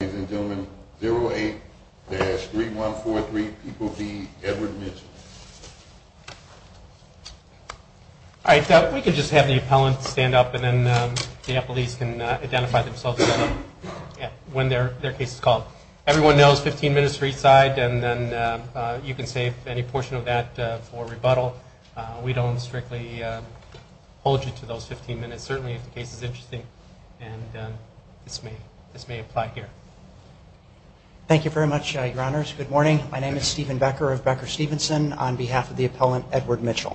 Ladies and gentlemen, 08-3143, people be Edward Mitchell. All right, we can just have the appellant stand up, and then the appellees can identify themselves when their case is called. Everyone knows 15 minutes for each side, and then you can save any portion of that for rebuttal. We don't strictly hold you to those 15 minutes, certainly if the case is interesting. And this may apply here. Thank you very much, Your Honors. Good morning. My name is Stephen Becker of Becker Stevenson on behalf of the appellant, Edward Mitchell.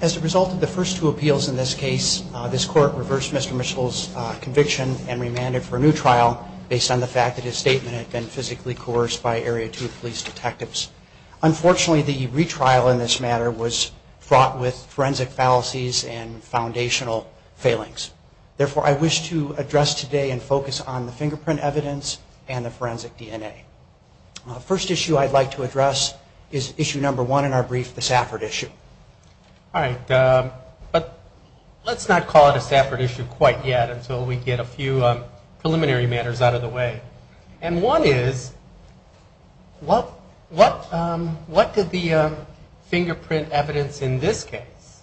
As a result of the first two appeals in this case, this court reversed Mr. Mitchell's conviction and remanded for a new trial based on the fact that his statement had been physically coerced by Area 2 police detectives. Unfortunately, the retrial in this matter was fraught with forensic fallacies and foundational failings. Therefore, I wish to address today and focus on the fingerprint evidence and the forensic DNA. First issue I'd like to address is issue number one in our brief, the Safford issue. All right, but let's not call it a Safford issue quite yet until we get a few preliminary matters out of the way. And one is, what did the fingerprint evidence in this case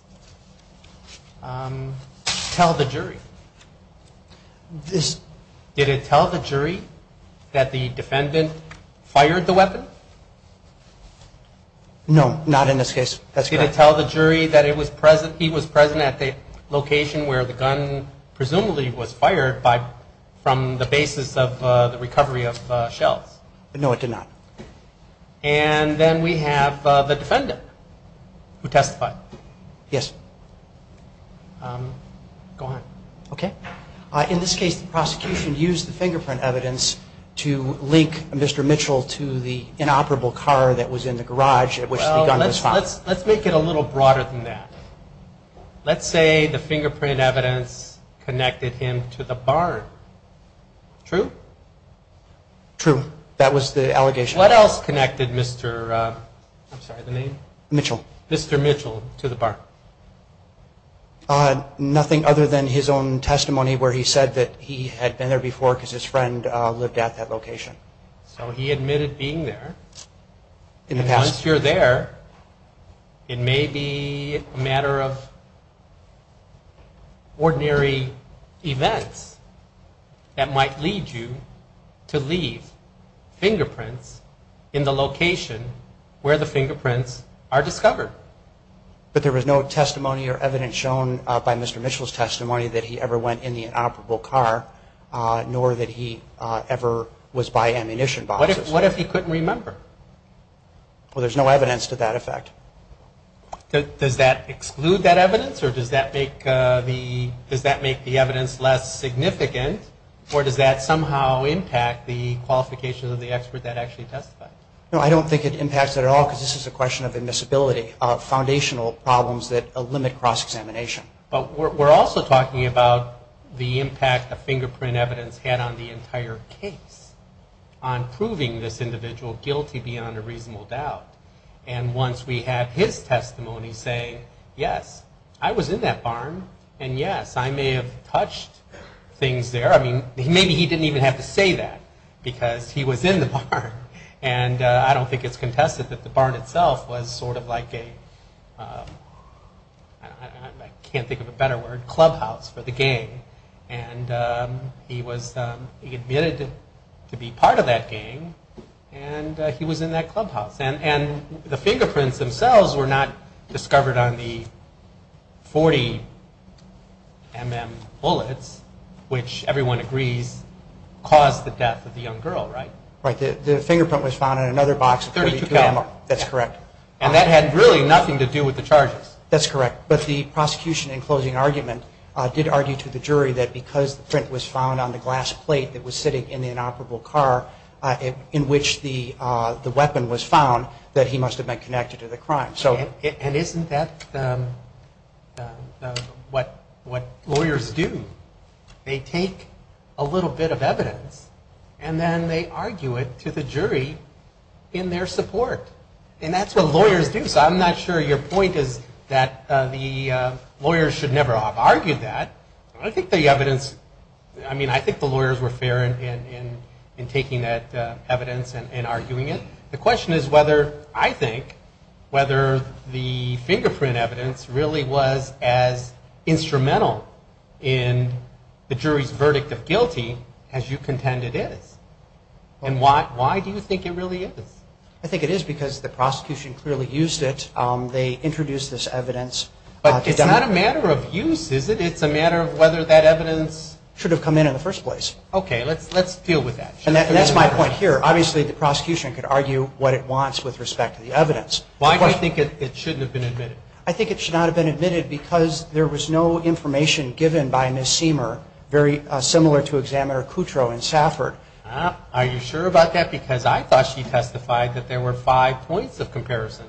tell the jury? Did it tell the jury that the defendant fired the weapon? No, not in this case. That's correct. Did it tell the jury that he was present at the location where the gun presumably was fired from the basis of the recovery of shells? No, it did not. And then we have the defendant who testified. Yes. Go on. OK. In this case, the prosecution used the fingerprint evidence to link Mr. Mitchell to the inoperable car that was in the garage at which the gun was fired. Let's make it a little broader than that. Let's say the fingerprint evidence connected him to the barn. True? True. That was the allegation. What else connected Mr. I'm sorry, the name? Mitchell. Mr. Mitchell to the barn? Nothing other than his own testimony where he said that he had been there before because his friend lived at that location. So he admitted being there. And once you're there, it may be a matter of ordinary events that might lead you to leave fingerprints in the location where the fingerprints are discovered. But there was no testimony or evidence shown by Mr. Mitchell's testimony that he ever went in the inoperable car, nor that he ever was by ammunition boxes. What if he couldn't remember? Well, there's no evidence to that effect. Does that exclude that evidence? Or does that make the evidence less significant? Or does that somehow impact the qualifications of the expert that actually testified? No, I don't think it impacts it at all, because this is a question of admissibility, of foundational problems that limit cross-examination. But we're also talking about the impact the fingerprint evidence had on the entire case, on proving this individual guilty beyond a reasonable doubt. And once we have his testimony say, yes, I was in that barn. And yes, I may have touched things there. I mean, maybe he didn't even have to say that, because he was in the barn. And I don't think it's contested that the barn itself was sort of like a, I can't think of a better word, clubhouse for the gang. And he admitted to be part of that gang. And he was in that clubhouse. And the fingerprints themselves were not discovered on the 40 mm bullets, which everyone agrees caused the death of the young girl, right? Right, the fingerprint was found on another box of .32 ammo. That's correct. And that had really nothing to do with the charges. That's correct. But the prosecution in closing argument did argue to the jury that because the print was found on the glass plate that was sitting in the inoperable car in which the weapon was found, that he must have been connected to the crime. And isn't that what lawyers do? They take a little bit of evidence, and then they argue it to the jury in their support. And that's what lawyers do. So I'm not sure your point is that the lawyers should never have argued that. I think the evidence, I mean, I think the lawyers were fair in taking that evidence and arguing it. The question is whether, I think, whether the fingerprint evidence really was as instrumental in the jury's verdict of guilty as you contend it is. And why do you think it really is? I think it is because the prosecution clearly used it. They introduced this evidence. But it's not a matter of use, is it? It's a matter of whether that evidence should have come in in the first place. OK, let's deal with that. And that's my point here. Obviously, the prosecution could argue what it wants with respect to the evidence. Why do you think it shouldn't have been admitted? I think it should not have been admitted because there was no information given by Ms. Seamer, very similar to Examiner Kutrow and Safford. Are you sure about that? Because I thought she testified that there were five points of comparison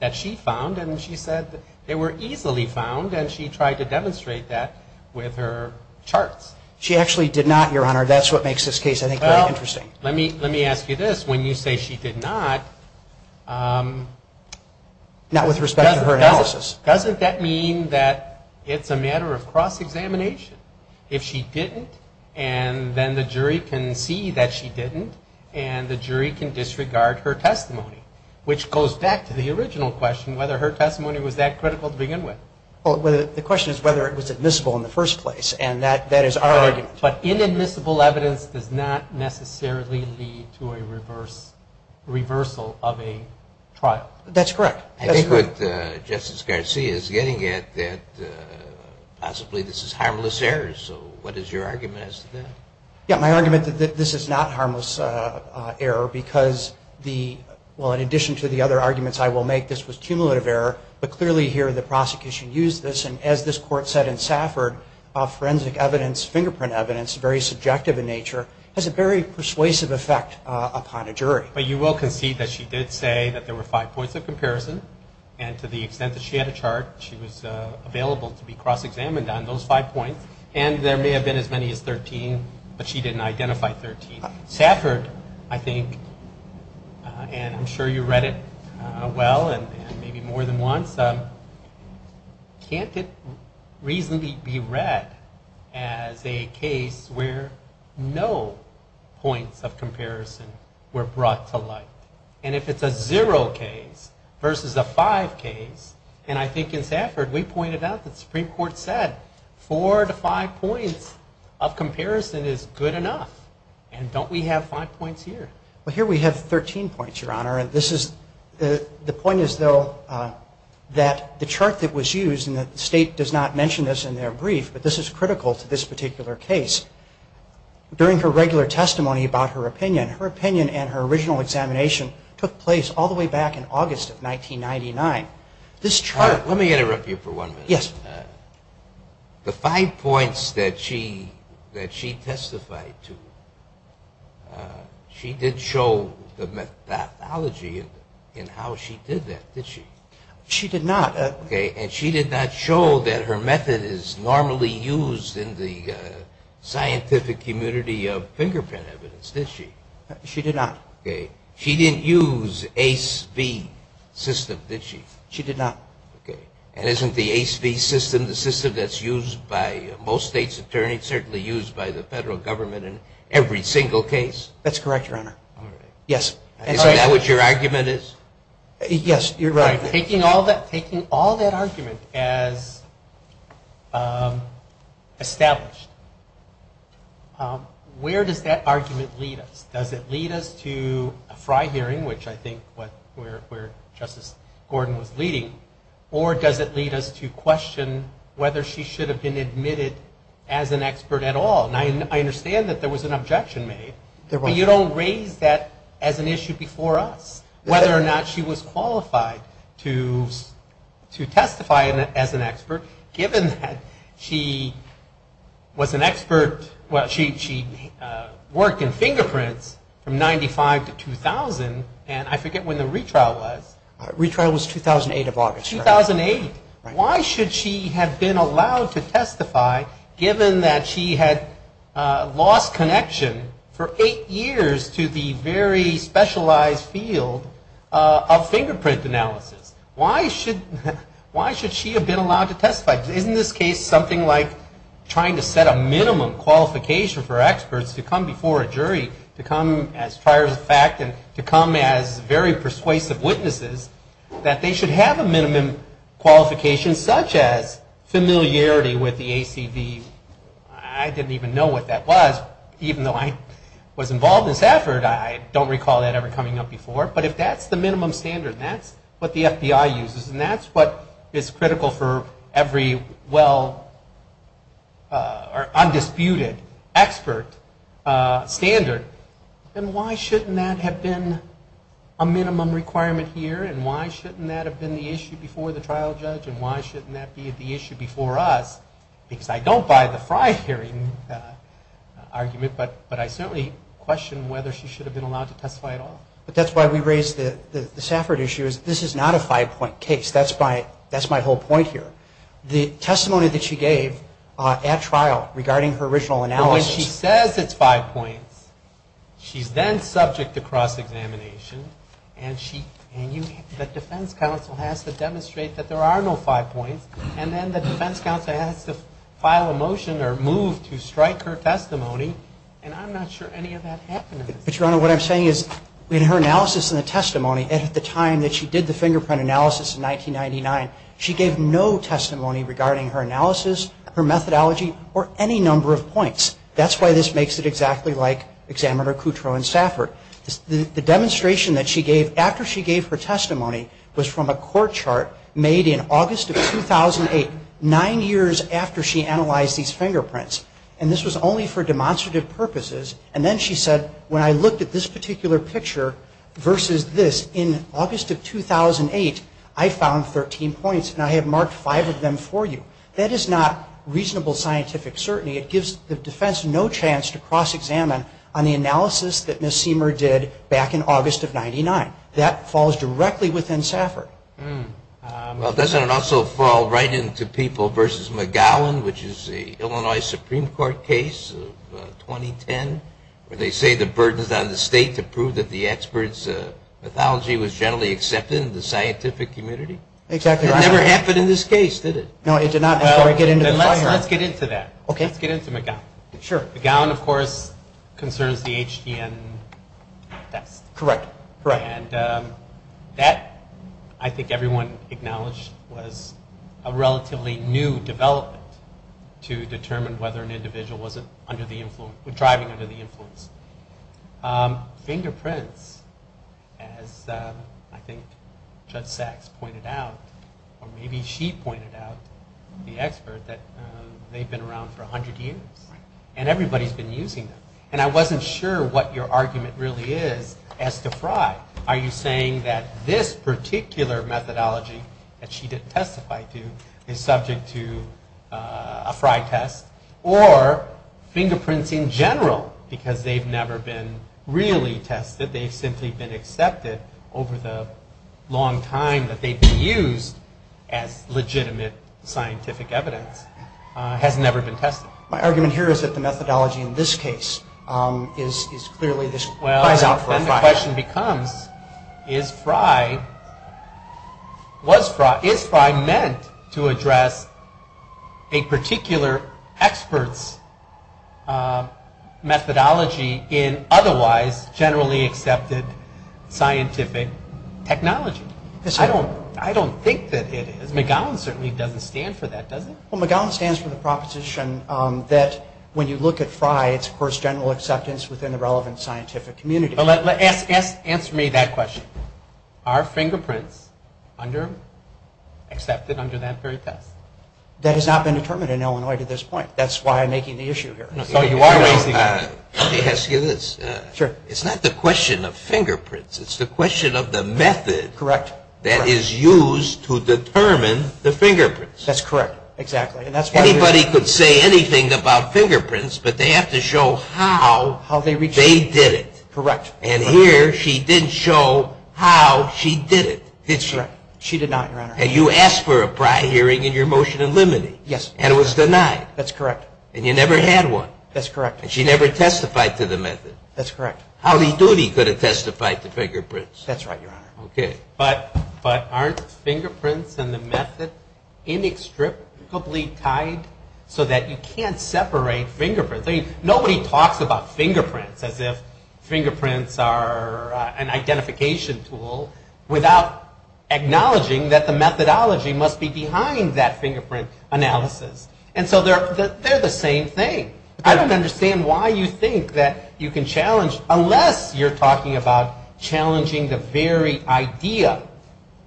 that she found. And she said they were easily found. And she tried to demonstrate that with her charts. She actually did not, Your Honor. That's what makes this case, I think, very interesting. Let me ask you this. When you say she did not, not with respect to her analysis, doesn't that mean that it's a matter of cross-examination? If she didn't, and then the jury can see that she didn't, and the jury can disregard her testimony, which goes back to the original question, whether her testimony was that critical to begin with. The question is whether it was admissible in the first place. And that is our argument. But inadmissible evidence does not necessarily lead to a reversal of a trial. That's correct. I think what Justice Garcia is getting at, that possibly this is harmless error. So what is your argument as to that? Yeah, my argument that this is not harmless error because the, well, in addition to the other arguments I will make, this was cumulative error. But clearly here, the prosecution used this. As this court said in Safford, forensic evidence, fingerprint evidence, very subjective in nature, has a very persuasive effect upon a jury. But you will concede that she did say that there were five points of comparison. And to the extent that she had a chart, she was available to be cross-examined on those five points. And there may have been as many as 13, but she didn't identify 13. Safford, I think, and I'm sure you read it well and maybe more than once, can't it reasonably be read as a case where no points of comparison were brought to light? And if it's a zero case versus a five case, and I think in Safford we pointed out that the Supreme Court said four to five points of comparison is good enough. And don't we have five points here? Well, here we have 13 points, Your Honor. The point is, though, that the chart that was used, and the state does not mention this in their brief, but this is critical to this particular case. During her regular testimony about her opinion, her opinion and her original examination took place all the way back in August of 1999. This chart. Let me interrupt you for one minute. Yes. The five points that she testified to, she did show the methodology in how she did that, did she? She did not. And she did not show that her method is normally used in the scientific community of fingerprint evidence, did she? She did not. She didn't use ACE-B system, did she? She did not. And isn't the ACE-B system the system that's used by most state's attorneys, certainly used by the federal government in every single case? That's correct, Your Honor. Yes. Isn't that what your argument is? Yes, you're right. Taking all that argument as established, where does that argument lead us? Does it lead us to a FRI hearing, which I think where Justice Gordon was leading? Or does it lead us to question whether she should have been admitted as an expert at all? And I understand that there was an objection made. But you don't raise that as an issue before us, whether or not she was qualified to testify as an expert, given that she was an expert. Well, she worked in fingerprints from 95 to 2000. And I forget when the retrial was. Retrial was 2008, if I'm not mistaken. 2008. Why should she have been allowed to testify, given that she had lost connection for eight years to the very specialized field of fingerprint analysis? Why should she have been allowed to testify? Isn't this case something like trying to set a minimum qualification for experts to come before a jury, to come as prior fact and to come as very persuasive witnesses, that they should have a minimum qualification, such as familiarity with the ACV? I didn't even know what that was, even though I was involved in this effort. I don't recall that ever coming up before. But if that's the minimum standard, and that's what the FBI uses, and that's what is critical for every well undisputed expert standard, then why shouldn't that have been a minimum requirement here, and why shouldn't that have been the issue before the trial judge, and why shouldn't that be the issue before us? Because I don't buy the Friar hearing argument, but I certainly question whether she should have been allowed to testify at all. But that's why we raised the Safford issue, is this is not a five point case. That's my whole point here. The testimony that she gave at trial, regarding her original analysis. When she says it's five points, she's then subject to cross-examination, and the defense counsel has to demonstrate that there are no five points. And then the defense counsel has to file a motion, or move to strike her testimony. And I'm not sure any of that happened. But Your Honor, what I'm saying is, in her analysis and the testimony, and at the time that she did the fingerprint analysis in 1999, she gave no testimony regarding her analysis, her methodology, or any number of points. That's why this makes it exactly like Examiner Coutreau and Safford. The demonstration that she gave, after she gave her testimony, was from a court chart made in August of 2008, nine years after she analyzed these fingerprints. And this was only for demonstrative purposes. And then she said, when I looked at this particular picture versus this, in August of 2008, I found 13 points, and I have marked five of them for you. That is not reasonable scientific certainty. It gives the defense no chance to cross-examine on the analysis that Ms. Seamer did back in August of 1999. That falls directly within Safford. Well, doesn't it also fall right into People versus McGowan, which is the Illinois Supreme Court case of 2010, where they say the burden is on the state to prove that the expert's methodology was generally accepted in the scientific community? Exactly right. It never happened in this case, did it? No, it did not, before I get into the fire. Let's get into that. OK. Let's get into McGowan. Sure. McGowan, of course, concerns the HDN test. Correct. Correct. And that, I think everyone acknowledged, was a relatively new development to determine whether an individual was driving under the influence. Fingerprints, as I think Judge Sachs pointed out, or maybe she pointed out, the expert, that they've been around for 100 years. And everybody's been using them. And I wasn't sure what your argument really is as to Fry. Are you saying that this particular methodology that she didn't testify to is subject to a Fry test? Or fingerprints in general, because they've never been really tested. They've simply been accepted over the long time that they've been used as legitimate scientific evidence, has never been tested. My argument here is that the methodology in this case is clearly this fries out for Fry. And the question becomes, is Fry meant to address a particular expert's methodology in otherwise generally accepted scientific technology? I don't think that it is. McGowan certainly doesn't stand for that, does it? McGowan stands for the proposition that when you look at Fry, it's, of course, general acceptance within the relevant scientific community. Answer me that question. Are fingerprints accepted under that very test? That has not been determined in Illinois to this point. That's why I'm making the issue here. So you are raising that. Let me ask you this. It's not the question of fingerprints. It's the question of the method that is used to determine the fingerprints. That's correct, exactly. Anybody could say anything about fingerprints, but they have to show how they did it. And here, she didn't show how she did it, did she? She did not, Your Honor. And you asked for a Fry hearing in your motion in limine. And it was denied. That's correct. And you never had one. That's correct. And she never testified to the method. That's correct. Howdy doody could have testified to fingerprints. That's right, Your Honor. But aren't fingerprints and the method inextricably tied so that you can't separate fingerprints? Nobody talks about fingerprints as if fingerprints are an identification tool without acknowledging that the methodology must be behind that fingerprint analysis. And so they're the same thing. I don't understand why you think that you can challenge, unless you're talking about challenging the very idea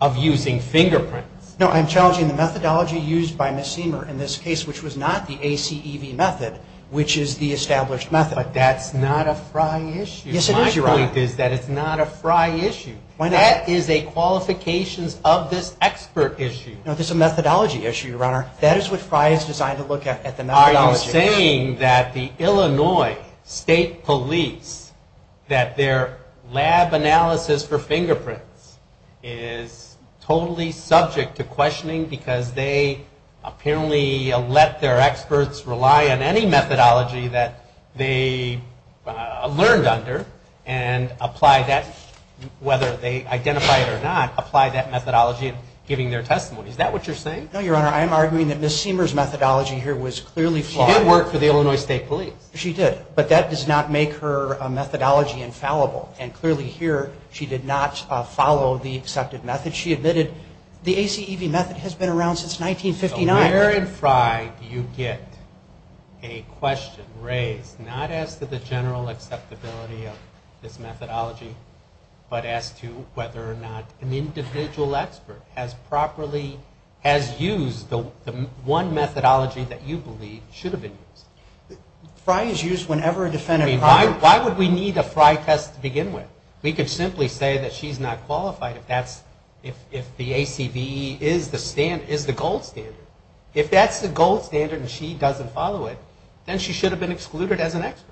of using fingerprints. No, I'm challenging the methodology used by Ms. Seamer in this case, which was not the ACEV method, which is the established method. But that's not a Fry issue. Yes, it is, Your Honor. My point is that it's not a Fry issue. Why not? That is a qualifications of this expert issue. No, this is a methodology issue, Your Honor. That is what Fry is designed to look at, at the methodology issue. Are you saying that the Illinois State Police, that their lab analysis for fingerprints is totally subject to questioning because they apparently let their experts rely on any methodology that they learned under and apply that, whether they identify it or not, apply that methodology in giving their testimony? Is that what you're saying? No, Your Honor. I'm arguing that Ms. Seamer's methodology here was clearly flawed. She did work for the Illinois State Police. She did. But that does not make her methodology infallible. And clearly here, she did not follow the accepted method. She admitted the ACEV method has been around since 1959. So where in Fry do you get a question raised, not as to the general acceptability of this methodology, but as to whether or not an individual expert has properly used the one methodology that you believe should have been used? Fry is used whenever a defendant requires it. Why would we need a Fry test to begin with? We could simply say that she's not qualified if the ACEV is the gold standard. If that's the gold standard and she doesn't follow it, then she should have been excluded as an expert.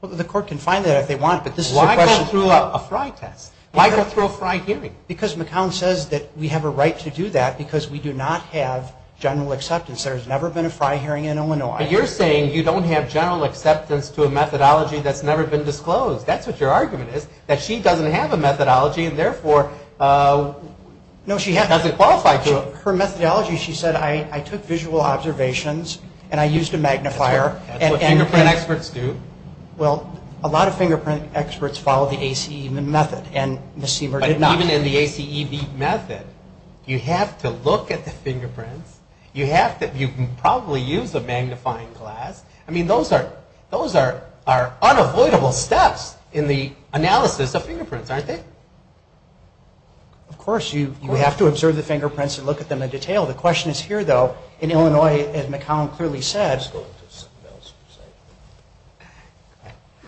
Well, the court can find that if they want. But this is a question. Why go through a Fry test? Why go through a Fry hearing? Because McCown says that we have a right to do that because we do not have general acceptance. There's never been a Fry hearing in Illinois. But you're saying you don't have general acceptance to a methodology that's never been disclosed. That's what your argument is, that she doesn't have a methodology and therefore doesn't qualify to it. Her methodology, she said, I took visual observations and I used a magnifier. That's what fingerprint experts do. Well, a lot of fingerprint experts follow the ACEV method and Ms. Seamer did not. Even in the ACEV method, you have to look at the fingerprints. You have to, you can probably use a magnifying glass. I mean, those are unavoidable steps in the analysis of fingerprints, aren't they? Of course, you have to observe the fingerprints and look at them in detail. The question is here though, in Illinois, as McCown clearly said.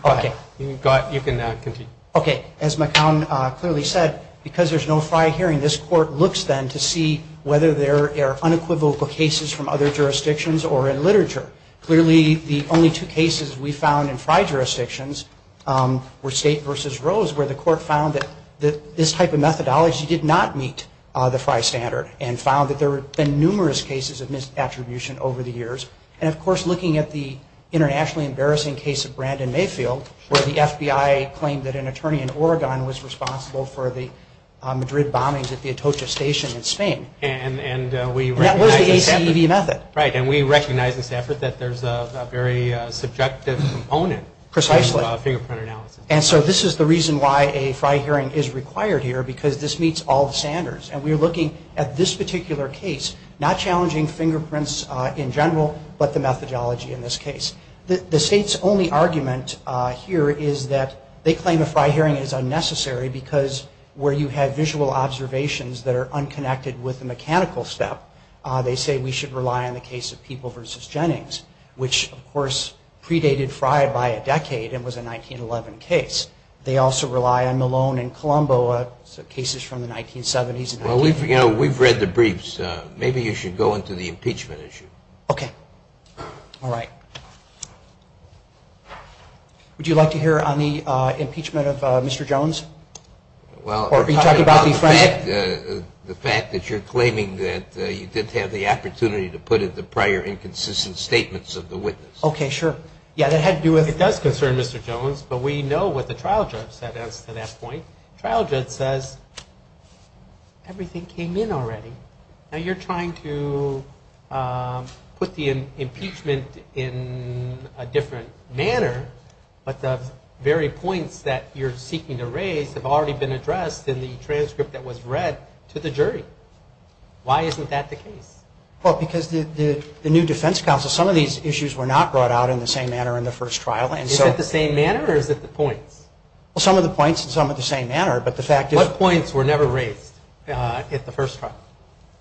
Okay. You can now continue. Okay, as McCown clearly said, because there's no Fry hearing, this court looks then to see whether there are unequivocal cases from other jurisdictions or in literature. Clearly, the only two cases we found in Fry jurisdictions were State versus Rose, where the court found that this type of methodology did not meet the Fry standard and found that there had been numerous cases of misattribution over the years. And of course, looking at the internationally embarrassing case of Brandon Mayfield, where the FBI claimed that an attorney in Oregon was responsible for the Madrid bombings at the Atocha Station in Spain. And that was the ACEV method. Right, and we recognize in this effort that there's a very subjective component Precisely. In fingerprint analysis. And so this is the reason why a Fry hearing is required here, because this meets all the standards. And we're looking at this particular case, not challenging fingerprints in general, but the methodology in this case. The state's only argument here is that they claim a Fry hearing is unnecessary because where you have visual observations that are unconnected with the mechanical step, they say we should rely on the case of People versus Jennings which of course predated Fry by a decade and was a 1911 case. They also rely on Malone and Colombo, so cases from the 1970s. Well, we've read the briefs. Maybe you should go into the impeachment issue. Okay. All right. Would you like to hear on the impeachment of Mr. Jones? Well, the fact that you're claiming that you didn't have the opportunity to put in the prior inconsistent statements of the witness. Okay, sure. Yeah, that had to do with. It does concern Mr. Jones, but we know what the trial judge said as to that point. Trial judge says, everything came in already. Now you're trying to put the impeachment in a different manner, but the very points that you're seeking to raise have already been addressed in the transcript that was read to the jury. Why isn't that the case? Well, because the new defense counsel, some of these issues were not brought out in the same manner in the first trial. And so. Is it the same manner or is it the points? Well, some of the points and some of the same manner, but the fact is. What points were never raised at the first trial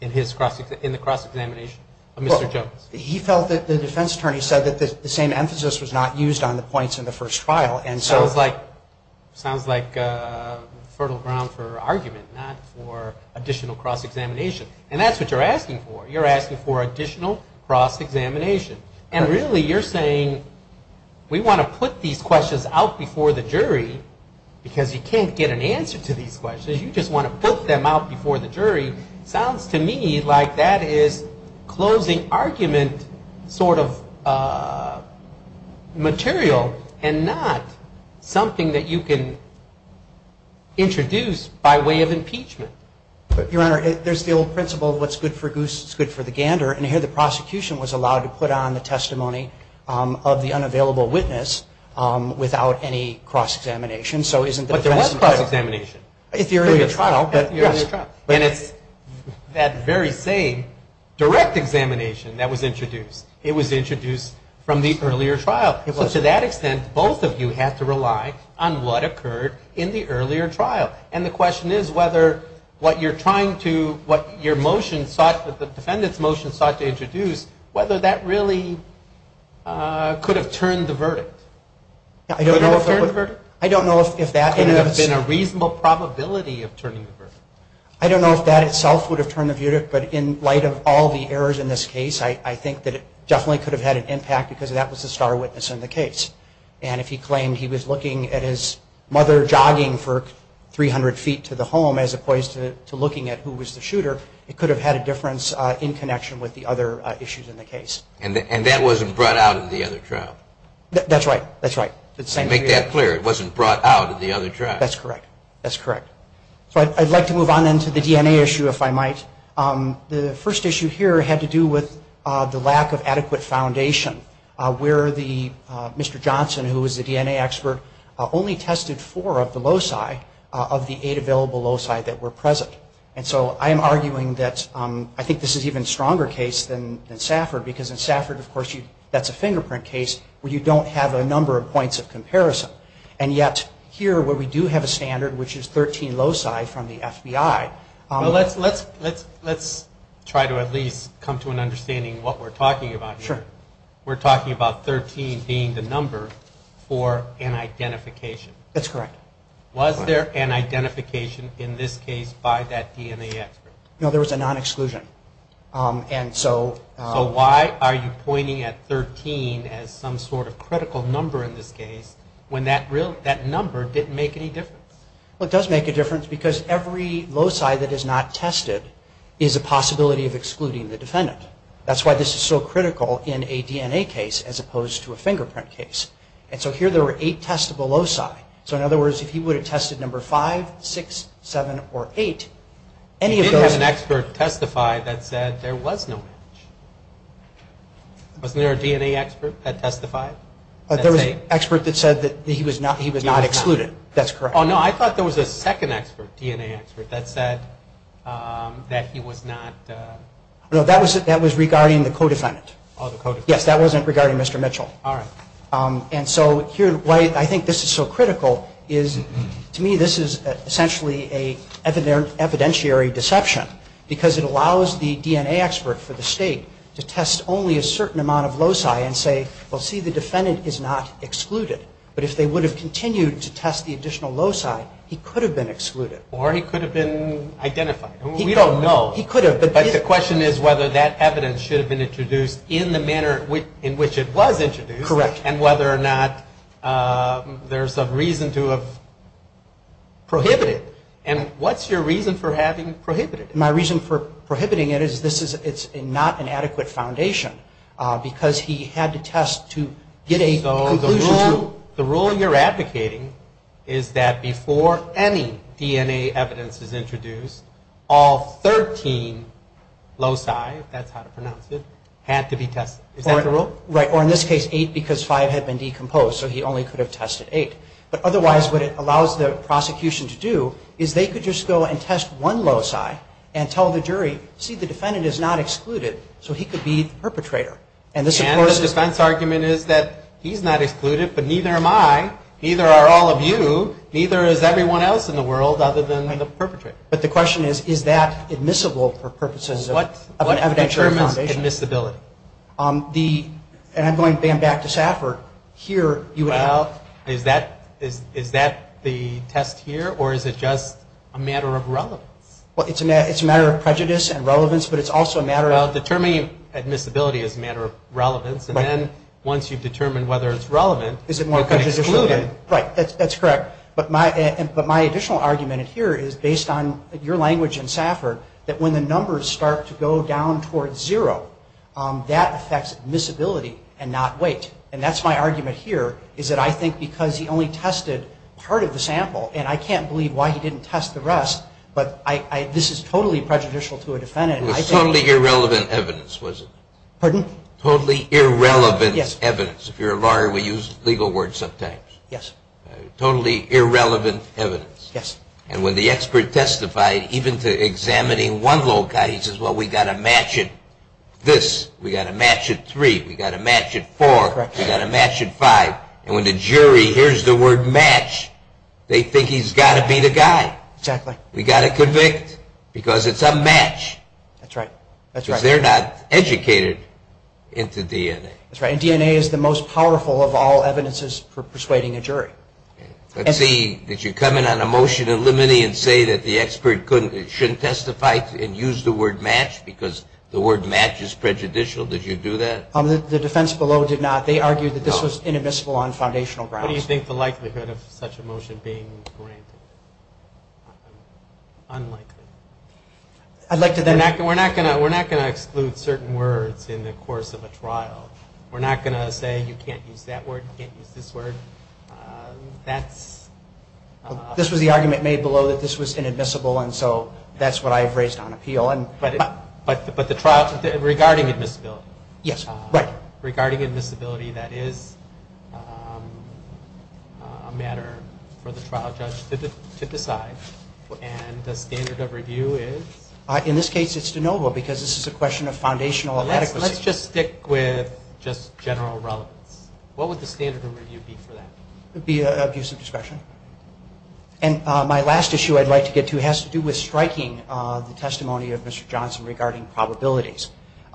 in the cross-examination of Mr. Jones? He felt that the defense attorney said that the same emphasis was not used on the points in the first trial. And so. Sounds like fertile ground for argument, not for additional cross-examination. And that's what you're asking for. You're asking for additional cross-examination. And really you're saying, we want to put these questions out before the jury because you can't get an answer to these questions. You just want to put them out before the jury. Sounds to me like that is closing argument sort of material and not something that you can introduce by way of impeachment. Your Honor, there's the old principle of what's good for goose is good for the gander. And here the prosecution was allowed to put on the testimony of the unavailable witness without any cross-examination. So isn't the defense attorney. But there was cross-examination. If you're in the trial, but yes. And it's that very same direct examination that was introduced. It was introduced from the earlier trial. So to that extent, both of you have to rely on what occurred in the earlier trial. And the question is whether what you're trying to, what your motion sought, the defendant's motion sought to introduce, whether that really could have turned the verdict. I don't know if that. I don't know if that could have been a reasonable probability of turning the verdict. I don't know if that itself would have turned the verdict, but in light of all the errors in this case, I think that it definitely could have had an impact because that was a star witness in the case. And if he claimed he was looking at his mother jogging for 300 feet to the home, as opposed to looking at who was the shooter, it could have had a difference in connection with the other issues in the case. And that wasn't brought out of the other trial. That's right, that's right. Make that clear, it wasn't brought out of the other trial. That's correct, that's correct. So I'd like to move on into the DNA issue, if I might. The first issue here had to do with the lack of adequate foundation, where Mr. Johnson, who was the DNA expert, only tested four of the loci of the eight available loci that were present. And so I am arguing that, I think this is an even stronger case than Safford, because in Safford, of course, that's a fingerprint case where you don't have a number of points of comparison. And yet, here, where we do have a standard, which is 13 loci from the FBI. Well, let's try to at least come to an understanding of what we're talking about here. We're talking about 13 being the number for an identification. That's correct. Was there an identification in this case by that DNA expert? No, there was a non-exclusion. And so... So why are you pointing at 13 as some sort of critical number in this case when that number didn't make any difference? Well, it does make a difference because every loci that is not tested is a possibility of excluding the defendant. That's why this is so critical in a DNA case as opposed to a fingerprint case. And so here there were eight testable loci. So in other words, if he would have tested number five, six, seven, or eight, any of those... He didn't have an expert testify that said there was no match. Wasn't there a DNA expert that testified? There was an expert that said that he was not excluded. That's correct. Oh, no, I thought there was a second DNA expert that said that he was not... No, that was regarding the co-defendant. Oh, the co-defendant. Yes, that wasn't regarding Mr. Mitchell. All right. And so here, why I think this is so critical is to me, this is essentially a evidentiary deception because it allows the DNA expert for the state to test only a certain amount of loci and say, well, see, the defendant is not excluded. But if they would have continued to test the additional loci, he could have been excluded. Or he could have been identified. We don't know. He could have. But the question is whether that evidence should have been introduced in the manner in which it was introduced. Correct. And whether or not there's a reason to have prohibited it. And what's your reason for having prohibited it? My reason for prohibiting it is it's not an adequate foundation because he had to test to get a conclusion. The rule you're advocating is that before any DNA evidence is introduced, all 13 loci, if that's how to pronounce it, had to be tested. Is that the rule? Right. Or in this case, eight because five had been decomposed. So he only could have tested eight. But otherwise, what it allows the prosecution to do is they could just go and test one loci and tell the jury, see, the defendant is not excluded. So he could be the perpetrator. And this, of course- And the defense argument is that he's not excluded, but neither am I. Neither are all of you. Neither is everyone else in the world other than the perpetrator. But the question is, is that admissible for purposes of an evidentiary foundation? What determines admissibility? The, and I'm going back to Safford, here you have- Well, is that the test here or is it just a matter of relevance? Well, it's a matter of prejudice and relevance, but it's also a matter of- Well, determining admissibility is a matter of relevance. And then once you've determined whether it's relevant- Is it more prejudicial- You can exclude it. Right, that's correct. But my additional argument here is based on your language in Safford that when the numbers start to go down towards zero, that affects admissibility and not weight. And that's my argument here is that I think because he only tested part of the sample and I can't believe why he didn't test the rest, but this is totally prejudicial to a defendant. It was totally irrelevant evidence, was it? Pardon? Totally irrelevant evidence. If you're a lawyer, we use legal words sometimes. Yes. Totally irrelevant evidence. Yes. And when the expert testified, even to examining one little guy, he says, well, we got a match at this. We got a match at three. We got a match at four. We got a match at five. And when the jury hears the word match, they think he's got to be the guy. Exactly. We got to convict because it's a match. That's right, that's right. Because they're not educated into DNA. That's right, and DNA is the most powerful of all evidences for persuading a jury. Let's see, did you come in on a motion of limine and say that the expert shouldn't testify and use the word match because the word match is prejudicial, did you do that? The defense below did not. They argued that this was inadmissible on foundational grounds. What do you think the likelihood of such a motion being granted? Unlikely. I'd like to then. We're not going to exclude certain words in the course of a trial. We're not going to say you can't use that word, you can't use this word. That's... This was the argument made below that this was inadmissible, and so that's what I've raised on appeal. But the trial, regarding admissibility. Yes, right. Regarding admissibility, that is a matter for the trial judge to decide, and the standard of review is? In this case, it's de novo, because this is a question of foundational adequacy. Let's just stick with just general relevance. What would the standard of review be for that? It would be an abuse of discretion. And my last issue I'd like to get to has to do with striking the testimony of Mr. Johnson regarding probabilities.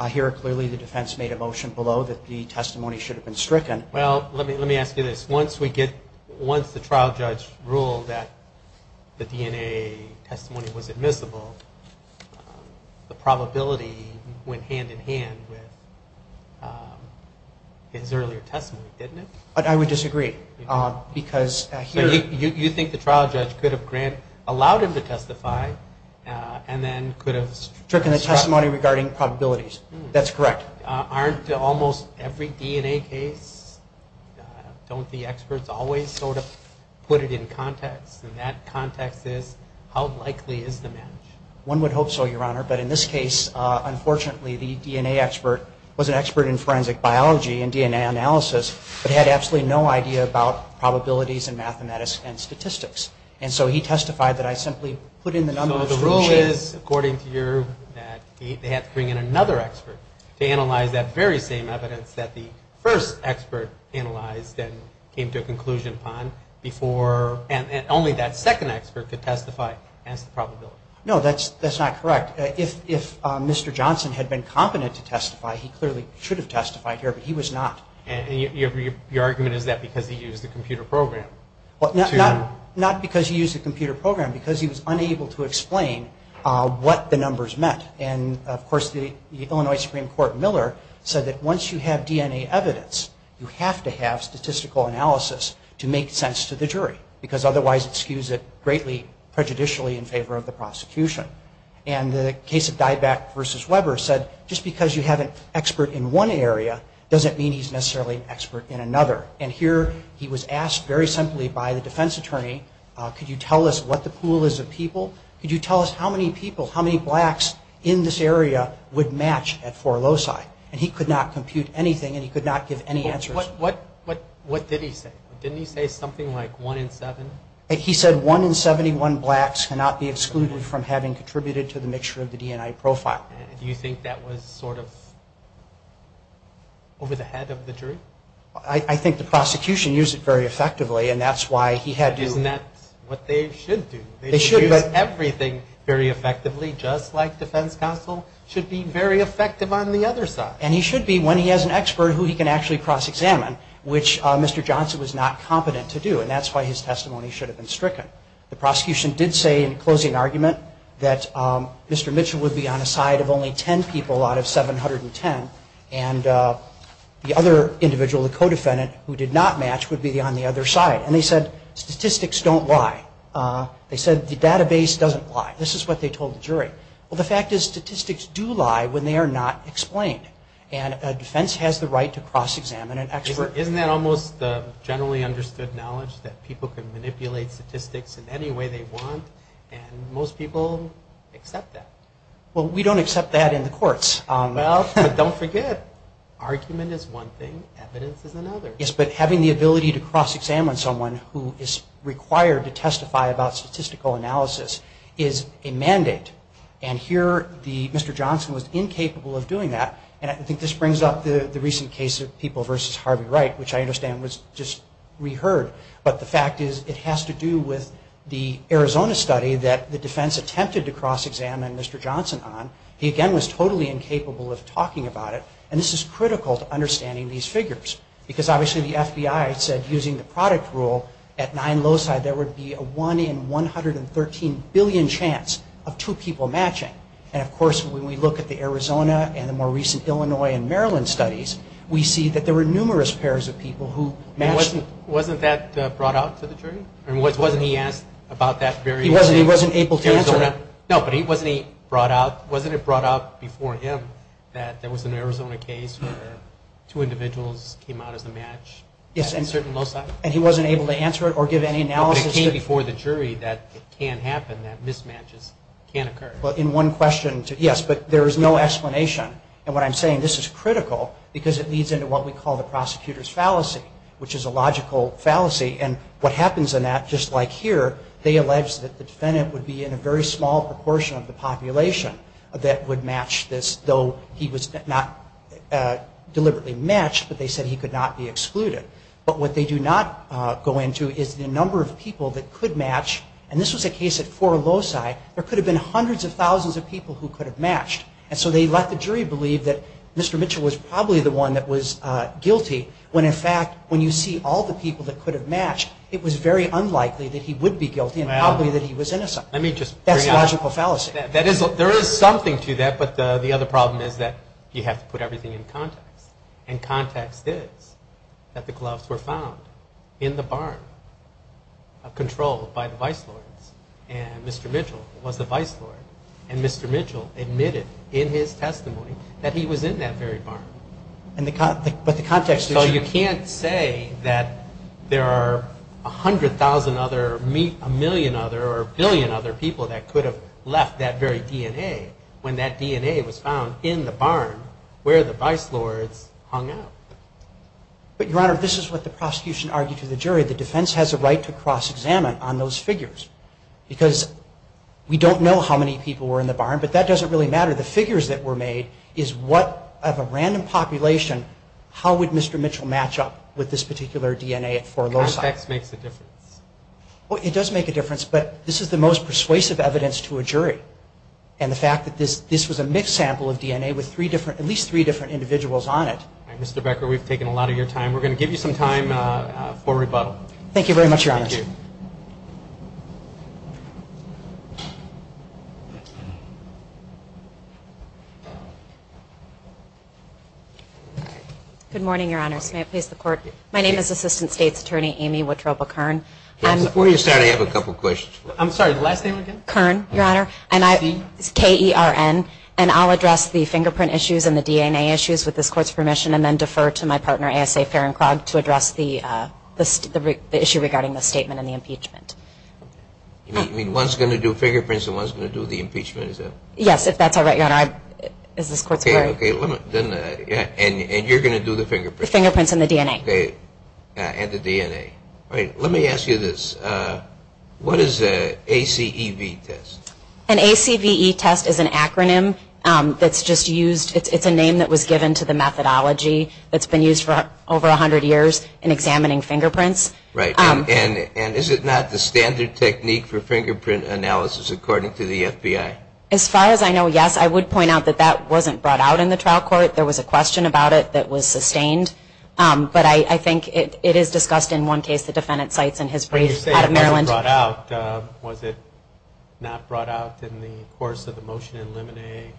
Here, clearly, the defense made a motion below that the testimony should have been stricken. Well, let me ask you this. Once we get, once the trial judge ruled that the DNA testimony was admissible, the probability went hand in hand with his earlier testimony, didn't it? I would disagree, because here- You think the trial judge could have allowed him to testify, and then could have- Stricken the testimony regarding probabilities. That's correct. Aren't almost every DNA case, don't the experts always sort of put it in context? And that context is, how likely is the match? One would hope so, Your Honor, but in this case, unfortunately, the DNA expert was an expert in forensic biology and DNA analysis, but had absolutely no idea about probabilities and mathematics and statistics. And so he testified that I simply put in the numbers- So the rule is, according to you, that they had to bring in another expert to analyze that very same evidence that the first expert analyzed and came to a conclusion upon before, and only that second expert could testify as the probability. No, that's not correct. If Mr. Johnson had been competent to testify, he clearly should have testified here, but he was not. And your argument is that because he used the computer program to- Not because he used the computer program, because he was unable to explain what the numbers meant. And of course, the Illinois Supreme Court Miller said that once you have DNA evidence, you have to have statistical analysis to make sense to the jury, because otherwise it skews it greatly prejudicially in favor of the prosecution. And the case of Dyback v. Weber said, just because you have an expert in one area doesn't mean he's necessarily an expert in another. And here he was asked very simply by the defense attorney, could you tell us what the pool is of people? Could you tell us how many people, how many blacks in this area would match at four loci? And he could not compute anything and he could not give any answers. What did he say? Didn't he say something like one in seven? He said one in 71 blacks cannot be excluded from having contributed to the mixture of the DNI profile. Do you think that was sort of over the head of the jury? I think the prosecution used it very effectively and that's why he had to- Isn't that what they should do? They should- They should use everything very effectively, just like defense counsel should be very effective on the other side. And he should be when he has an expert who he can actually cross-examine, which Mr. Johnson was not competent to do. And that's why his testimony should have been stricken. The prosecution did say in closing argument that Mr. Mitchell would be on a side of only 10 people out of 710. And the other individual, the co-defendant, who did not match would be on the other side. And they said, statistics don't lie. They said the database doesn't lie. This is what they told the jury. Well, the fact is statistics do lie when they are not explained. And a defense has the right to cross-examine an expert. Isn't that almost the generally understood knowledge that people can manipulate statistics in any way they want? And most people accept that. Well, we don't accept that in the courts. Well, but don't forget, argument is one thing, evidence is another. Yes, but having the ability to cross-examine someone who is required to testify about statistical analysis is a mandate. And here, Mr. Johnson was incapable of doing that. And I think this brings up the recent case of people versus Harvey Wright, which I understand was just reheard. But the fact is, it has to do with the Arizona study that the defense attempted to cross-examine Mr. Johnson on. He, again, was totally incapable of talking about it. And this is critical to understanding these figures. Because obviously, the FBI said using the product rule, at nine loci, there would be a one in 113 billion chance of two people matching. And of course, when we look at the Arizona and the more recent Illinois and Maryland studies, we see that there were numerous pairs of people who matched. Wasn't that brought out to the jury? And wasn't he asked about that very early? He wasn't able to answer that. No, but wasn't he brought out, wasn't it brought out before him that there was an Arizona case where two individuals came out as a match at a certain loci? And he wasn't able to answer it or give any analysis to it? No, but it came before the jury that it can happen, that mismatches can occur. Well, in one question, yes, but there is no explanation. And what I'm saying, this is critical because it leads into what we call the prosecutor's fallacy, which is a logical fallacy. And what happens in that, just like here, they allege that the defendant would be in a very small proportion of the population that would match this, though he was not deliberately matched, but they said he could not be excluded. But what they do not go into is the number of people that could match. And this was a case at four loci. There could have been hundreds of thousands of people who could have matched. And so they let the jury believe that Mr. Mitchell was probably the one that was guilty when, in fact, when you see all the people that could have matched, it was very unlikely that he would be guilty and probably that he was innocent. Let me just bring out- That's a logical fallacy. There is something to that, but the other problem is that you have to put everything in context. And context is that the gloves were found in the barn controlled by the vice lords. And Mr. Mitchell was the vice lord. And Mr. Mitchell admitted in his testimony that he was in that very barn. But the context is- So you can't say that there are 100,000 other, a million other, or a billion other people that could have left that very DNA when that DNA was found in the barn where the vice lords hung out. But, Your Honor, this is what the prosecution argued to the jury. The defense has a right to cross-examine on those figures because we don't know how many people were in the barn, but that doesn't really matter. The figures that were made is what, of a random population, how would Mr. Mitchell match up with this particular DNA for loci? Context makes a difference. Well, it does make a difference, but this is the most persuasive evidence to a jury. And the fact that this was a mixed sample of DNA with at least three different individuals on it. Mr. Becker, we've taken a lot of your time. We're gonna give you some time for rebuttal. Thank you very much, Your Honor. Thank you. Good morning, Your Honor. May I please the court? My name is Assistant State's Attorney, Amy Wittropa Kern. Before you start, I have a couple of questions. I'm sorry, the last name again? Kern, Your Honor, and I, it's K-E-R-N, and I'll address the fingerprint issues and the DNA issues with this court's permission and then defer to my partner, A.S.A. Ferencrogg, to address the issue regarding the statement and the impeachment. You mean one's gonna do fingerprints Yes, if that's all right, Your Honor. Is this going to be a long statement? Yes, this court's allowed. Okay, and you're gonna do the fingerprints? The fingerprints and the DNA. Okay, and the DNA. All right, let me ask you this. What is a ACEV test? An ACEV test is an acronym that's just used, it's a name that was given to the methodology that's been used for over 100 years in examining fingerprints. Right, and is it not the standard technique for fingerprint analysis according to the FBI? As far as I know, yes. I would point out that that wasn't brought out in the trial court. There was a question about it that was sustained, but I think it is discussed in one case, the defendant cites in his brief out of Maryland. When you say it wasn't brought out, was it not brought out in the course of the motion in Lemonade?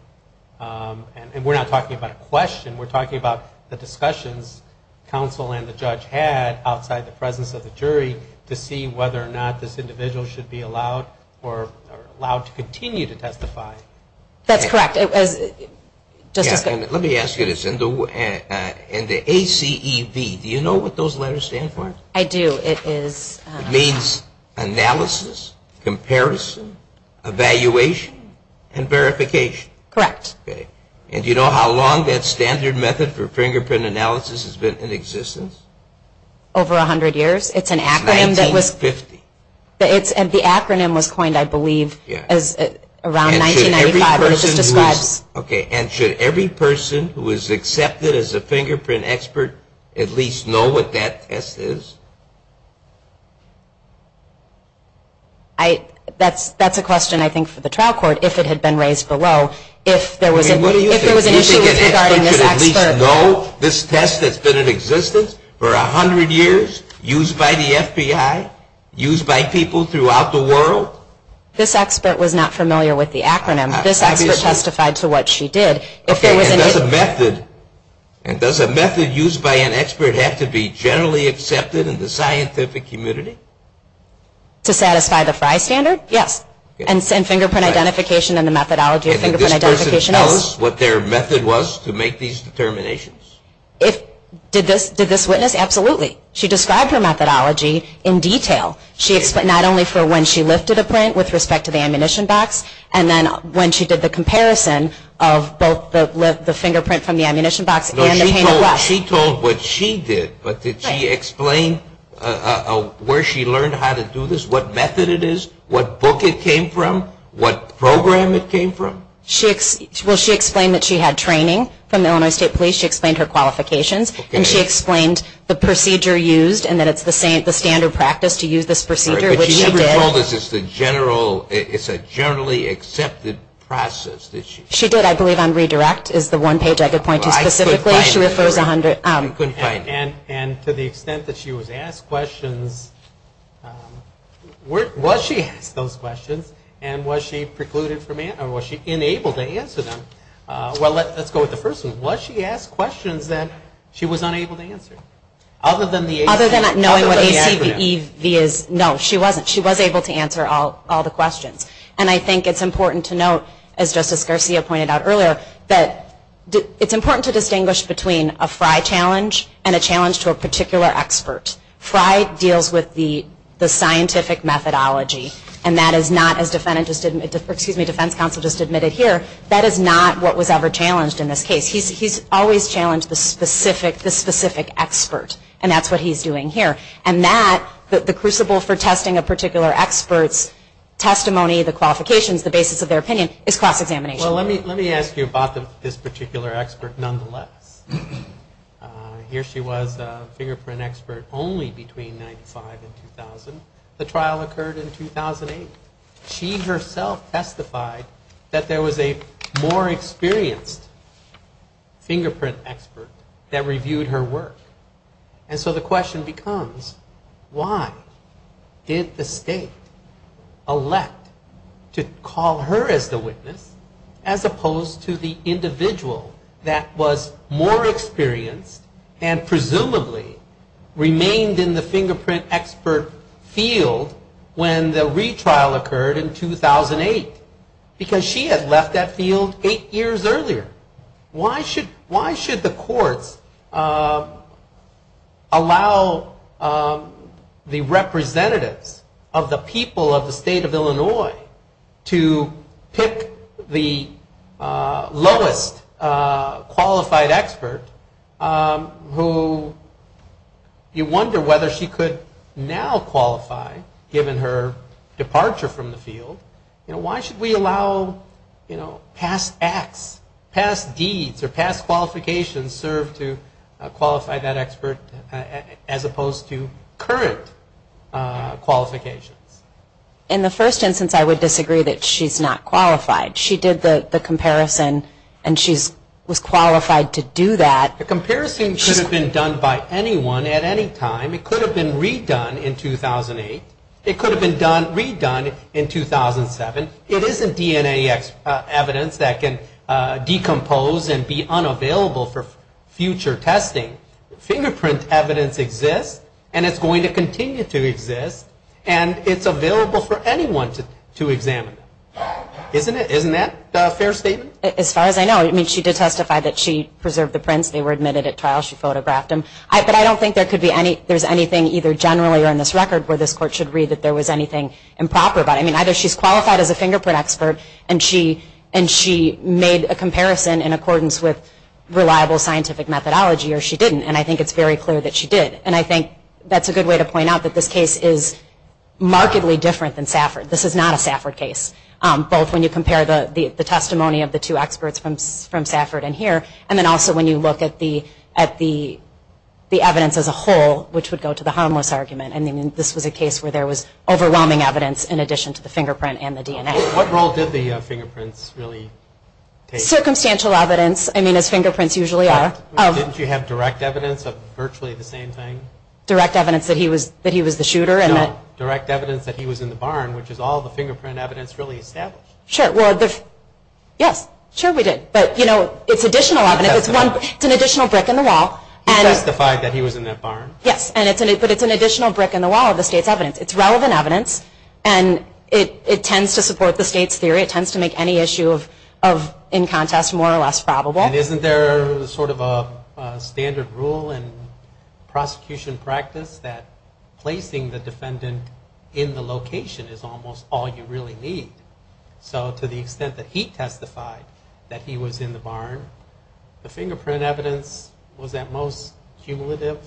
And we're not talking about a question, we're talking about the discussions counsel and the judge had outside the presence of the jury to see whether or not this individual should be allowed or allowed to continue to testify. That's correct. Let me ask you this, in the ACEV, do you know what those letters stand for? I do, it is... It means analysis, comparison, evaluation, and verification. Correct. And do you know how long that standard method for fingerprint analysis has been in existence? Over 100 years, it's an acronym that was... 1950. And the acronym was coined, I believe, as around 1995, but it just describes... Okay, and should every person who is accepted as a fingerprint expert at least know what that test is? That's a question, I think, for the trial court, if it had been raised below. If there was an issue with regarding this expert... Do you think an expert should at least know this test that's been in existence for 100 years, used by the FBI, used by people throughout the world? This expert was not familiar with the acronym. This expert testified to what she did. Okay, and does a method used by an expert have to be generally accepted in the scientific community? To satisfy the FRI standard? Yes. And fingerprint identification and the methodology of fingerprint identification... And did this person tell us what their method was to make these determinations? If, did this witness? Absolutely. She described her methodology in detail. She explained, not only for when she lifted a print with respect to the ammunition box, and then when she did the comparison of both the fingerprint from the ammunition box and the paintbrush. No, she told what she did, but did she explain where she learned how to do this? What method it is? What book it came from? What program it came from? She, well, she explained that she had training from Illinois State Police. She explained her qualifications, and she explained the procedure used and that it's the standard practice to use this procedure, which she did. Right, but she never told us it's the general, it's a generally accepted process that she... She did, I believe, on Redirect, is the one page I could point to specifically. She refers a hundred... Well, I couldn't find it. You couldn't find it. And to the extent that she was asked questions, was she asked those questions, and was she precluded from answering, or was she unable to answer them? Well, let's go with the first one. Was she asked questions that she was unable to answer? Other than the... No, she wasn't. She was able to answer all the questions. And I think it's important to note, as Justice Garcia pointed out earlier, that it's important to distinguish between a FRI challenge and a challenge to a particular expert. FRI deals with the scientific methodology, and that is not, as Defense Counsel just admitted here, that is not what was ever challenged in this case. He's always challenged the specific expert, and that's what he's doing here. And that, the crucible for testing a particular expert's testimony, the qualifications, the basis of their opinion, is cross-examination. Well, let me ask you about this particular expert, nonetheless. Here she was, a fingerprint expert, only between 95 and 2000. The trial occurred in 2008. She herself testified that there was a more experienced fingerprint expert that reviewed her work. And so the question becomes, why did the state elect to call her as the witness, as opposed to the individual that was more experienced and presumably remained in the fingerprint expert field when the retrial occurred in 2008? Because she had left that field eight years earlier. Why should the courts allow the representatives of the people of the state of Illinois to pick the lowest qualified expert who you wonder whether she could now qualify given her departure from the field? You know, why should we allow past acts, past deeds or past qualifications serve to qualify that expert as opposed to current qualifications? In the first instance, I would disagree that she's not qualified. She did the comparison and she was qualified to do that. The comparison could have been done by anyone at any time. It could have been redone in 2008. It could have been redone in 2007. It isn't DNA evidence that can decompose and be unavailable for future testing. Fingerprint evidence exists and it's going to continue to exist and it's available for anyone to examine. Isn't that a fair statement? As far as I know, I mean, she did testify that she preserved the prints. They were admitted at trial. She photographed them. But I don't think there's anything either generally or in this record where this court should read that there was anything improper about it. Either she's qualified as a fingerprint expert and she made a comparison in accordance with reliable scientific methodology or she didn't and I think it's very clear that she did. And I think that's a good way to point out that this case is markedly different than Safford. This is not a Safford case. Both when you compare the testimony of the two experts from Safford and here and then also when you look at the evidence as a whole which would go to the harmless argument. I mean, this was a case where there was overwhelming evidence in addition to the fingerprint and the DNA. What role did the fingerprints really take? Circumstantial evidence. I mean, as fingerprints usually are. Didn't you have direct evidence of virtually the same thing? Direct evidence that he was the shooter and that... No, direct evidence that he was in the barn which is all the fingerprint evidence really established. Sure, well, yes, sure we did. But, you know, it's additional evidence. It's one, it's an additional brick in the wall. He testified that he was in that barn. Yes, but it's an additional brick in the wall of the state's evidence. It's relevant evidence and it tends to support the state's theory. It tends to make any issue of in contest more or less probable. And isn't there sort of a standard rule in prosecution practice that placing the defendant in the location is almost all you really need? So to the extent that he testified that he was in the barn, the fingerprint evidence was at most cumulative?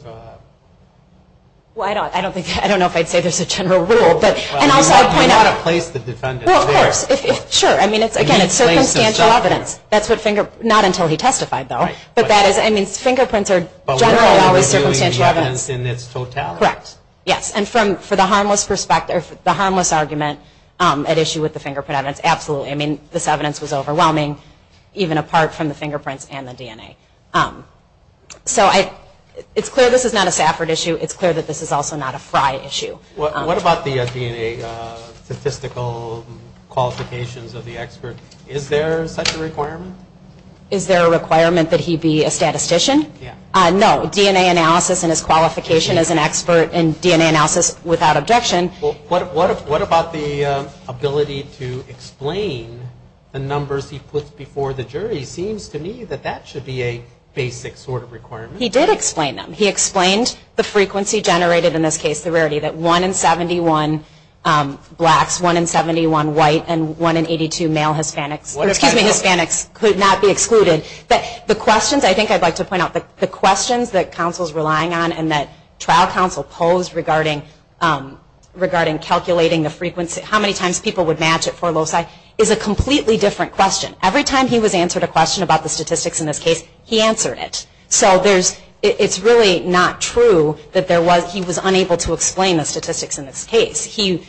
Well, I don't think, I don't know if I'd say there's a general rule and also I'd point out... You've got to place the defendant there. Well, of course, sure. I mean, it's again, it's circumstantial evidence. That's what finger, not until he testified though. But that is, I mean, fingerprints are generally always circumstantial evidence. In its totality. Correct. Yes, and from, for the harmless perspective, the harmless argument at issue with the fingerprint evidence, absolutely. I mean, this evidence was overwhelming even apart from the fingerprints and the DNA. So I, it's clear this is not a Safford issue. It's clear that this is also not a Frye issue. What about the DNA statistical qualifications of the expert? Is there such a requirement? Is there a requirement that he be a statistician? Yeah. No, DNA analysis and his qualification as an expert and DNA analysis without objection. What about the ability to explain the numbers he puts before the jury? Seems to me that that should be a basic sort of requirement. He did explain them. He explained the frequency generated in this case, the rarity that one in 71 blacks, one in 71 white, and one in 82 male Hispanics, excuse me, Hispanics could not be excluded. But the questions I think I'd like to point out, the questions that counsel's relying on and that trial counsel posed regarding, regarding calculating the frequency, how many times people would match it for loci, is a completely different question. Every time he was answered a question about the statistics in this case, he answered it. So there's, it's really not true that there was, he was unable to explain the statistics in this case. He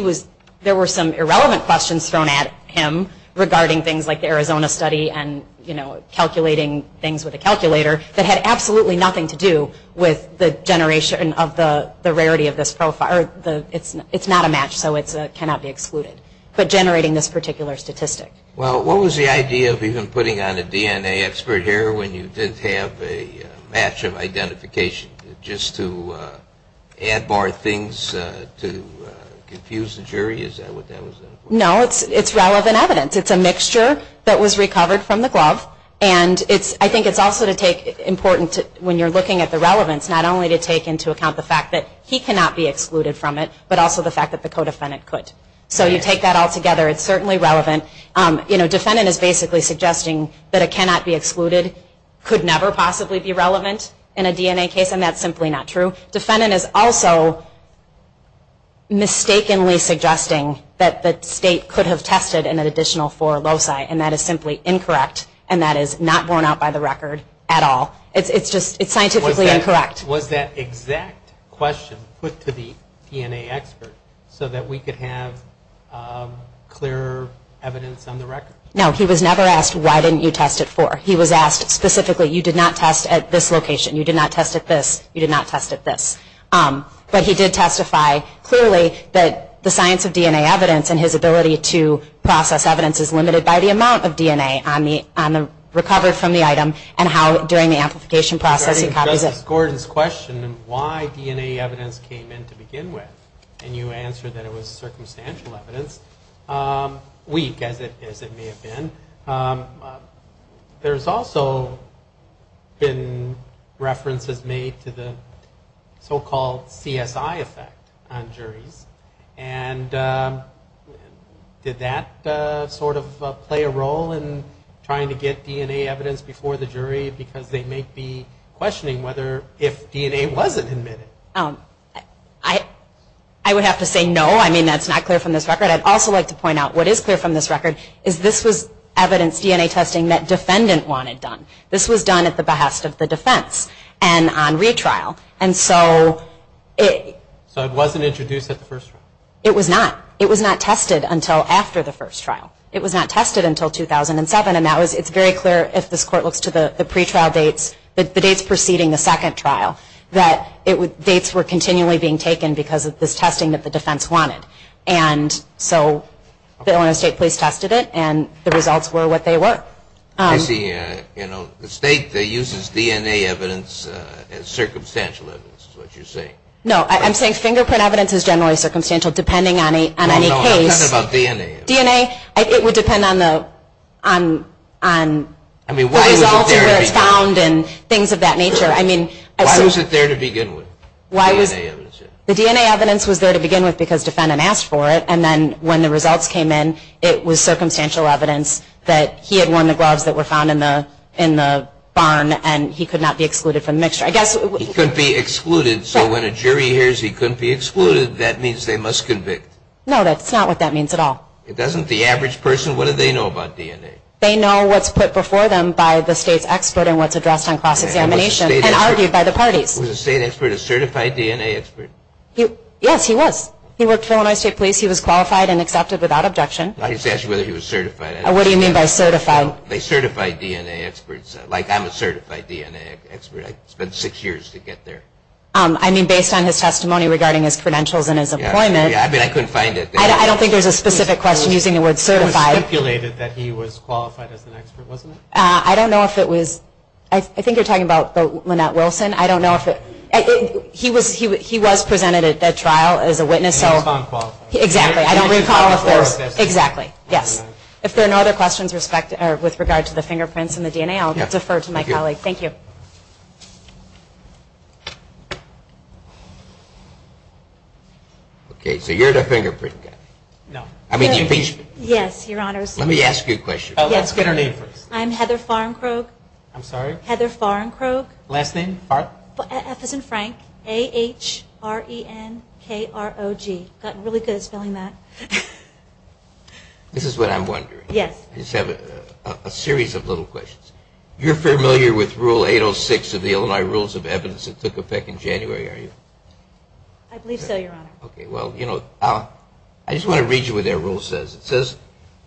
was, there were some irrelevant questions thrown at him regarding things like the Arizona study and calculating things with a calculator that had absolutely nothing to do with the generation of the rarity of this profile. It's not a match, so it cannot be excluded. But generating this particular statistic. Well, what was the idea of even putting on a DNA expert here when you didn't have a match of identification? Just to ad bar things, to confuse the jury? Is that what that was? No, it's relevant evidence. It's a mixture that was recovered from the glove. And it's, I think it's also to take important to, when you're looking at the relevance, not only to take into account the fact that he cannot be excluded from it, but also the fact that the co-defendant could. So you take that all together, it's certainly relevant. You know, defendant is basically suggesting that it cannot be excluded, could never possibly be relevant in a DNA case. And that's simply not true. Defendant is also mistakenly suggesting that the state could have tested an additional four loci. And that is simply incorrect. And that is not borne out by the record at all. It's just, it's scientifically incorrect. Was that exact question put to the DNA expert so that we could have clear evidence on the record? No, he was never asked, why didn't you test it for? He was asked specifically, you did not test at this location. You did not test at this, you did not test at this. But he did testify clearly that the science of DNA evidence and his ability to process evidence is limited by the amount of DNA on the, on the recover from the item and how during the amplification process he copies it. Gordon's question, why DNA evidence came in to begin with? And you answered that it was circumstantial evidence, weak as it may have been. There's also been references made to the so-called CSI effect on juries. And did that sort of play a role in trying to get DNA evidence before the jury because they may be questioning whether, if DNA wasn't admitted? I would have to say no. I mean, that's not clear from this record. I'd also like to point out what is clear from this record is this was evidence DNA testing that defendant wanted done. This was done at the behest of the defense and on retrial. And so it- So it wasn't introduced at the first trial? It was not. It was not tested until after the first trial. It was not tested until 2007. And that was, it's very clear if this court looks to the pretrial dates, the dates preceding the second trial, that it would, dates were continually being taken because of this testing that the defense wanted. And so the Illinois State Police tested it and the results were what they were. I see, you know, the state that uses DNA evidence as circumstantial evidence is what you're saying. No, I'm saying fingerprint evidence is generally circumstantial depending on any case. No, no, I'm talking about DNA evidence. DNA, it would depend on the results and where it's found and things of that nature. I mean- Why was it there to begin with, DNA evidence? The DNA evidence was there to begin with because defendant asked for it. And then when the results came in, it was circumstantial evidence that he had worn the gloves that were found in the barn and he could not be excluded from the mixture. I guess- He couldn't be excluded. So when a jury hears he couldn't be excluded, that means they must convict. No, that's not what that means at all. It doesn't, the average person, what do they know about DNA? They know what's put before them by the state's expert and what's addressed on cross-examination and argued by the parties. Was the state expert a certified DNA expert? Yes, he was. He worked for Illinois State Police. He was qualified and accepted without objection. I just asked whether he was certified. What do you mean by certified? They certify DNA experts, like I'm a certified DNA expert. I spent six years to get there. I mean, based on his testimony regarding his credentials and his employment. Yeah, I mean, I couldn't find it. I don't think there's a specific question using the word certified. It was stipulated that he was qualified as an expert, wasn't it? I don't know if it was, I think you're talking about Lynette Wilson. I don't know if it, he was presented at that trial as a witness. He was non-qualified. Exactly, I don't recall if there's, exactly, yes. If there are no other questions with regard to the fingerprints and the DNA, I'll defer to my colleague. Thank you. Okay, so you're the fingerprint guy. No. I mean, the infusion. Yes, your honors. Let me ask you a question. Oh, let's get her name first. I'm Heather Farnkrog. I'm sorry? Heather Farnkrog. Last name, Farnk? F as in Frank, A-H-R-E-N-K-R-O-G. Got really good at spelling that. This is what I'm wondering. Yes. I just have a series of little questions. You're familiar with Rule 806 of the Illinois Rules of Evidence that took effect in January, are you? I believe so, your honor. Okay, well, you know, I just want to read you what that rule says. It says,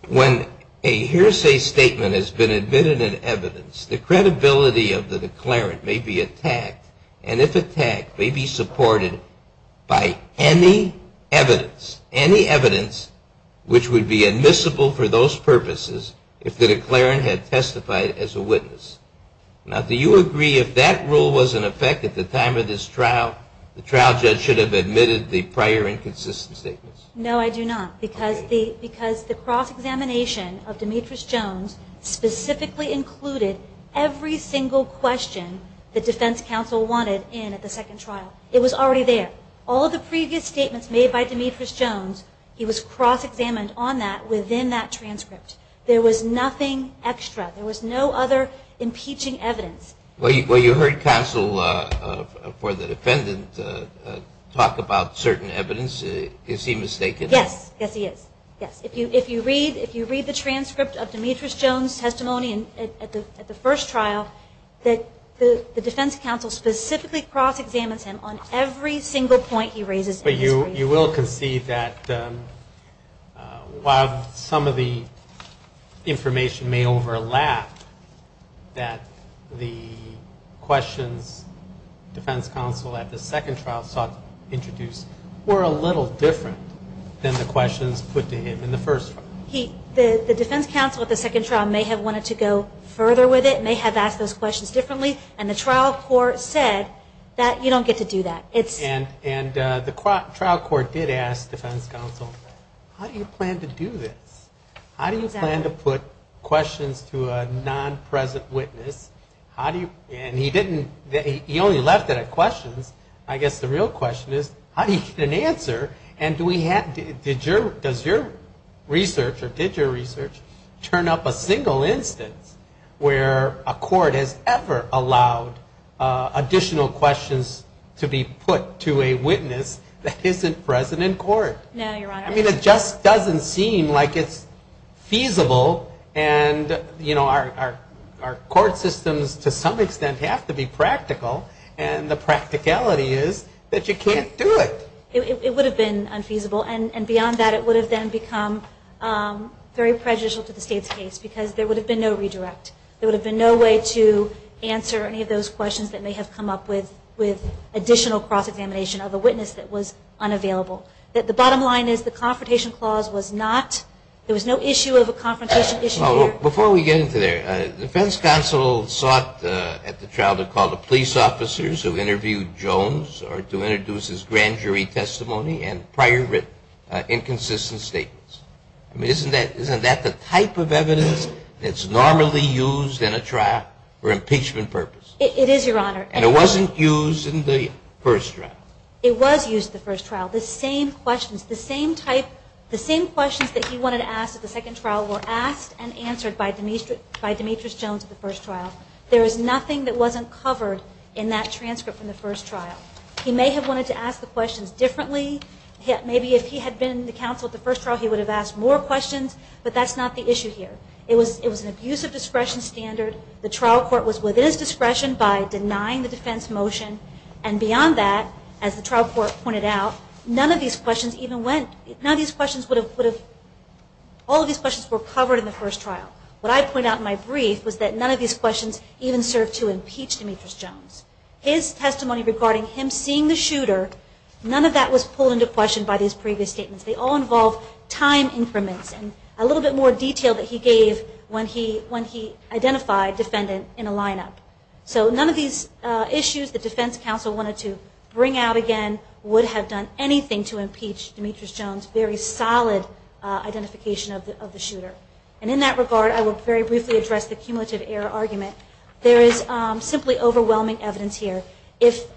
when a hearsay statement has been admitted in evidence, the credibility of the declarant may be attacked, and if attacked, may be supported by any evidence, any evidence which would be admissible for those purposes if the declarant had testified as a witness. Now, do you agree if that rule was in effect at the time of this trial, the trial judge should have admitted the prior inconsistent statements? No, I do not, because the cross-examination of Demetrius Jones specifically included every single question the defense counsel wanted in at the second trial. It was already there. All of the previous statements made by Demetrius Jones, he was cross-examined on that within that transcript. There was nothing extra. There was no other impeaching evidence. Well, you heard counsel for the defendant talk about certain evidence. Is he mistaken? Yes, yes he is, yes. If you read the transcript of Demetrius Jones' testimony at the first trial, that the defense counsel specifically cross-examines him on every single point he raises in his brief. You will concede that while some of the information may overlap, that the questions defense counsel at the second trial sought to introduce were a little different than the questions put to him in the first trial. The defense counsel at the second trial may have wanted to go further with it, may have asked those questions differently, and the trial court said that you don't get to do that. And the trial court did ask defense counsel, how do you plan to do this? How do you plan to put questions to a non-present witness? He only left it at questions. I guess the real question is, how do you get an answer, and does your research, or did your research, turn up a single instance where a court has ever allowed additional questions to be put to a witness that isn't present in court? No, Your Honor. I mean, it just doesn't seem like it's feasible, and our court systems, to some extent, have to be practical, and the practicality is that you can't do it. It would have been unfeasible, and beyond that, it would have then become very prejudicial to the state's case, because there would have been no redirect. There would have been no way to answer any of those questions that may have come up with additional cross-examination of a witness that was unavailable. The bottom line is the confrontation clause was not, there was no issue of a confrontation issue here. Before we get into there, defense counsel sought at the trial to call the police officers who interviewed Jones, or to introduce his grand jury testimony, and prior written inconsistent statements. I mean, isn't that the type of evidence that's normally used in a trial for impeachment purposes? It is, Your Honor. And it wasn't used in the first trial. It was used in the first trial. The same questions, the same type, the same questions that he wanted to ask at the second trial were asked and answered by Demetrius Jones at the first trial. There is nothing that wasn't covered in that transcript from the first trial. He may have wanted to ask the questions differently. Maybe if he had been the counsel at the first trial, he would have asked more questions, but that's not the issue here. It was an abuse of discretion standard. The trial court was within its discretion by denying the defense motion. And beyond that, as the trial court pointed out, none of these questions even went, none of these questions would have, all of these questions were covered in the first trial. What I pointed out in my brief was that none of these questions even served to impeach Demetrius Jones. His testimony regarding him seeing the shooter, none of that was pulled into question by these previous statements. They all involve time increments and a little bit more detail that he gave when he identified defendant in a lineup. So none of these issues the defense counsel wanted to bring out again would have done anything to impeach Demetrius Jones, very solid identification of the shooter. And in that regard, I will very briefly address the cumulative error argument. There is simply overwhelming evidence here. If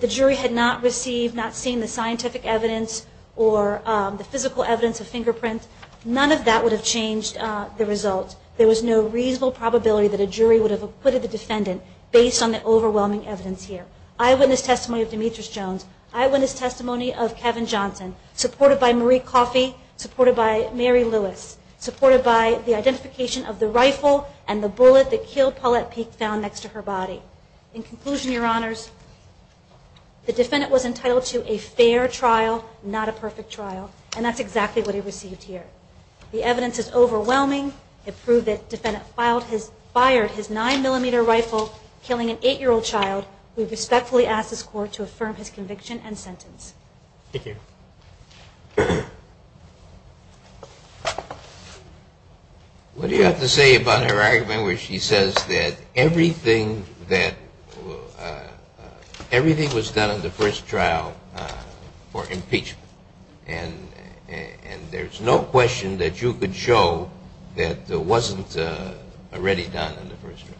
the jury had not received, not seen the scientific evidence or the physical evidence of fingerprint, none of that would have changed the result. There was no reasonable probability that a jury would have acquitted the defendant based on the overwhelming evidence here. Eyewitness testimony of Demetrius Jones, eyewitness testimony of Kevin Johnson, supported by Marie Coffey, supported by Mary Lewis, supported by the identification of the rifle and the bullet that killed Paulette Peek found next to her body. In conclusion, your honors, the defendant was entitled to a fair trial, not a perfect trial, and that's exactly what he received here. The evidence is overwhelming. It proved that defendant fired his nine millimeter rifle killing an eight year old child. We respectfully ask this court to affirm his conviction and sentence. Thank you. What do you have to say about her argument where she says that everything that, everything was done in the first trial for impeachment? And there's no question that you could show that it wasn't already done in the first trial.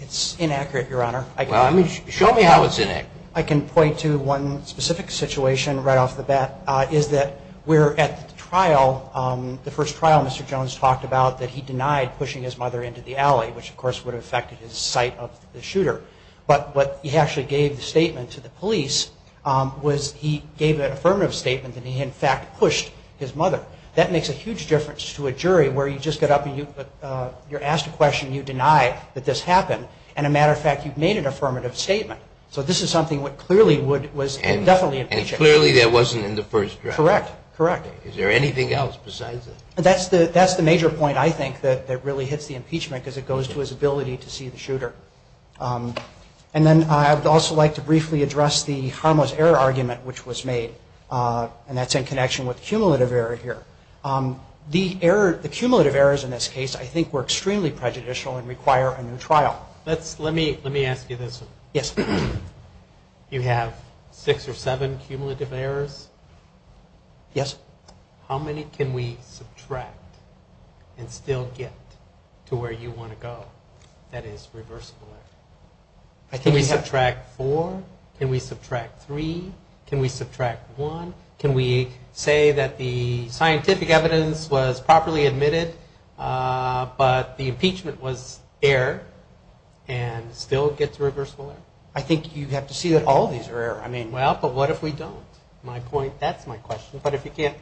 It's inaccurate, your honor. Well, I mean, show me how it's inaccurate. I can point to one specific situation right off the bat is that we're at the trial, the first trial Mr. Jones talked about that he denied pushing his mother into the alley, which of course would have affected his sight of the shooter but what he actually gave the statement to the police was he gave an affirmative statement that he in fact pushed his mother. That makes a huge difference to a jury where you just get up and you're asked a question, you deny that this happened. And a matter of fact, you've made an affirmative statement. So this is something what clearly would, was definitely an impeachment. And clearly that wasn't in the first trial. Correct, correct. Is there anything else besides that? That's the major point I think that really hits the impeachment because it goes to his ability to see the shooter. And then I would also like to briefly address the harmless error argument which was made and that's in connection with cumulative error here. The cumulative errors in this case, I think were extremely prejudicial and require a new trial. Let's, let me ask you this. Yes. You have six or seven cumulative errors? Yes. How many can we subtract and still get to where you wanna go that is reversible error? I think we have- Can we subtract four? Can we subtract three? Can we subtract one? Can we say that the scientific evidence was properly admitted, but the impeachment was error and still gets reversible error? I think you have to see that all of these are error. I mean- Well, but what if we don't? My point, that's my question. But if you can't-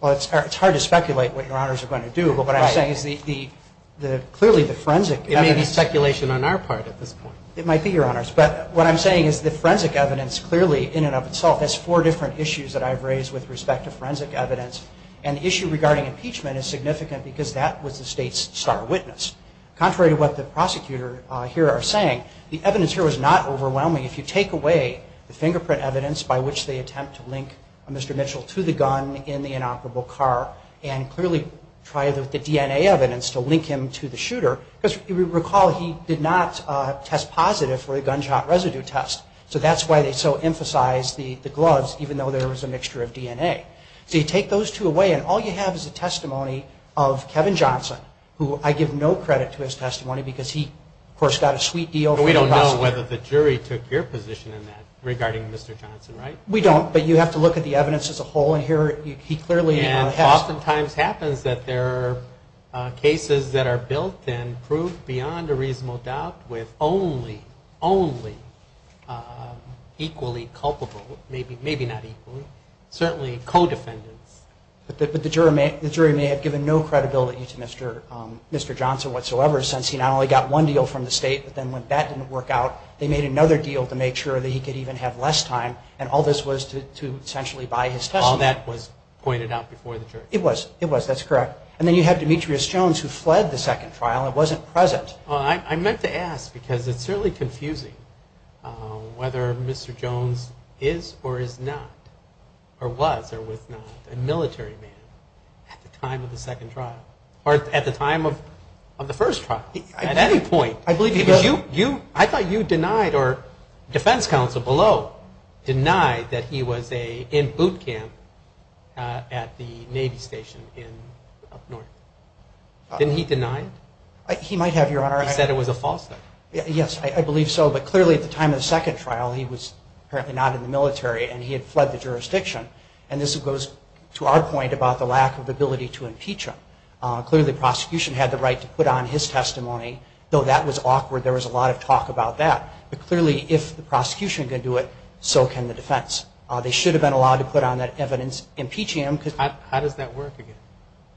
Well, it's hard to speculate what your honors are going to do. But what I'm saying is the, clearly the forensic- It may be speculation on our part at this point. It might be your honors. But what I'm saying is the forensic evidence clearly in and of itself has four different issues that I've raised with respect to forensic evidence. And the issue regarding impeachment is significant because that was the state's star witness. Contrary to what the prosecutor here are saying, the evidence here was not overwhelming. If you take away the fingerprint evidence by which they attempt to link Mr. Mitchell to the gun in the inoperable car and clearly try the DNA evidence to link him to the shooter, because if you recall, he did not test positive for the gunshot residue test. So that's why they so emphasize the gloves, even though there was a mixture of DNA. So you take those two away and all you have is a testimony of Kevin Johnson, who I give no credit to his testimony because he, of course, got a sweet deal- We don't know whether the jury took your position in that regarding Mr. Johnson, right? We don't, but you have to look at the evidence as a whole. And here, he clearly- And oftentimes happens that there are cases that are built in proof beyond a reasonable doubt with only, only equally culpable, maybe not equally, certainly co-defendants. But the jury may have given no credibility to Mr. Johnson whatsoever, since he not only got one deal from the state, but then when that didn't work out, they made another deal to make sure that he could even have less time. And all this was to essentially buy his testimony. All that was pointed out before the jury. It was, it was, that's correct. And then you have Demetrius Jones who fled the second trial and wasn't present. Well, I meant to ask because it's certainly confusing whether Mr. Jones is or is not, or was or was not a military man at the time of the second trial, or at the time of the first trial, at any point. I believe he was- I thought you denied, or defense counsel below, denied that he was in boot camp at the Navy station in up north. Didn't he deny it? He might have, Your Honor. He said it was a falsehood. Yes, I believe so. But clearly at the time of the second trial, he was apparently not in the military and he had fled the jurisdiction. And this goes to our point about the lack of ability to impeach him. Clearly the prosecution had the right to put on his testimony, though that was awkward. There was a lot of talk about that. But clearly if the prosecution can do it, so can the defense. They should have been allowed to put on that evidence impeaching him. How does that work again?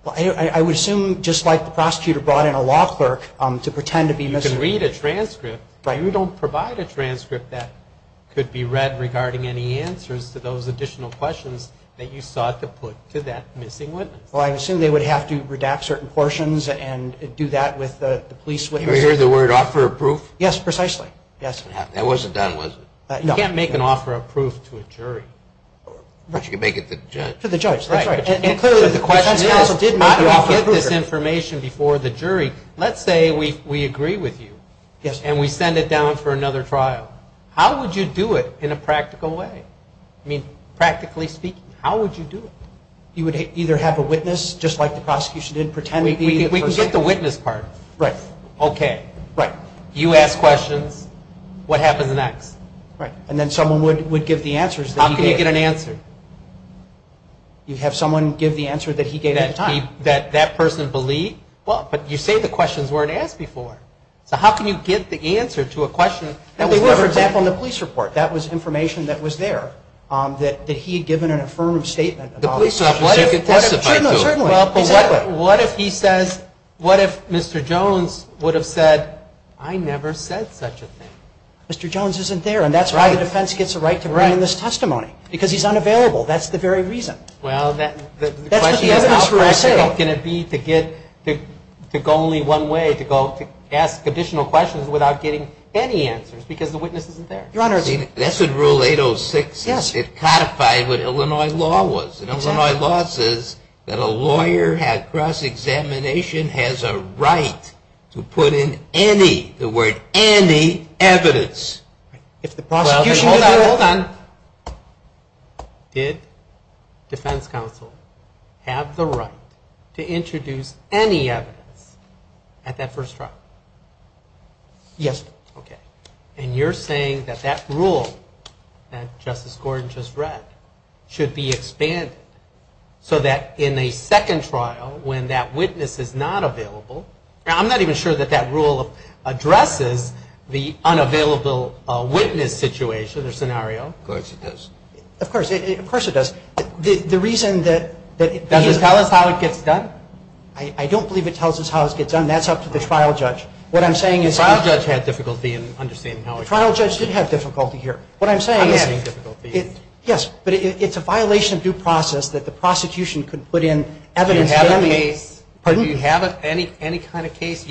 Well, I would assume, just like the prosecutor brought in a law clerk to pretend to be missing- You can read a transcript. Right. You don't provide a transcript that could be read regarding any answers to those additional questions that you sought to put to that missing witness. Well, I assume they would have to redact certain portions and do that with the police witnesses. You hear the word offer of proof? Yes, precisely. Yes. That wasn't done, was it? No. You can't make an offer of proof to a jury. But you can make it to the judge. To the judge, that's right. And clearly the question is, how do we get this information before the jury? Let's say we agree with you and we send it down for another trial. How would you do it in a practical way? I mean, practically speaking, how would you do it? You would either have a witness, just like the prosecution did, or you would pretend to be the person. We can get the witness part. Right. Okay. Right. You ask questions, what happens next? Right, and then someone would give the answers that he gave. How can you get an answer? You have someone give the answer that he gave at the time. That that person believed? Well, but you say the questions weren't asked before. So how can you get the answer to a question that was never asked? For example, in the police report, that was information that was there that he had given an affirmative statement about. The police have, what if- So you could testify to it. Sure, no, certainly. What if he says, what if Mr. Jones would have said, I never said such a thing? Mr. Jones isn't there, and that's why the defense gets a right to bring in this testimony, because he's unavailable. That's the very reason. Well, the question is how practical can it be to go only one way, to ask additional questions without getting any answers, because the witness isn't there. Your Honor- See, that's in Rule 806. Yes. It codified what Illinois law was. Illinois law says that a lawyer at cross-examination has a right to put in any, the word any, evidence. If the prosecution- Well, then hold on, hold on. Did defense counsel have the right to introduce any evidence at that first trial? Yes, sir. Okay, and you're saying that that rule that Justice Gordon just read should be expanded so that in a second trial, when that witness is not available, now I'm not even sure that that rule addresses the unavailable witness situation or scenario. Of course it does. Of course, of course it does. The reason that- Does it tell us how it gets done? I don't believe it tells us how it gets done. That's up to the trial judge. What I'm saying is- The trial judge had difficulty in understanding how- The trial judge did have difficulty here. What I'm saying is- I'm having difficulty. Yes, but it's a violation of due process that the prosecution could put in evidence- Do you have a case? Pardon me? Do you have any kind of case?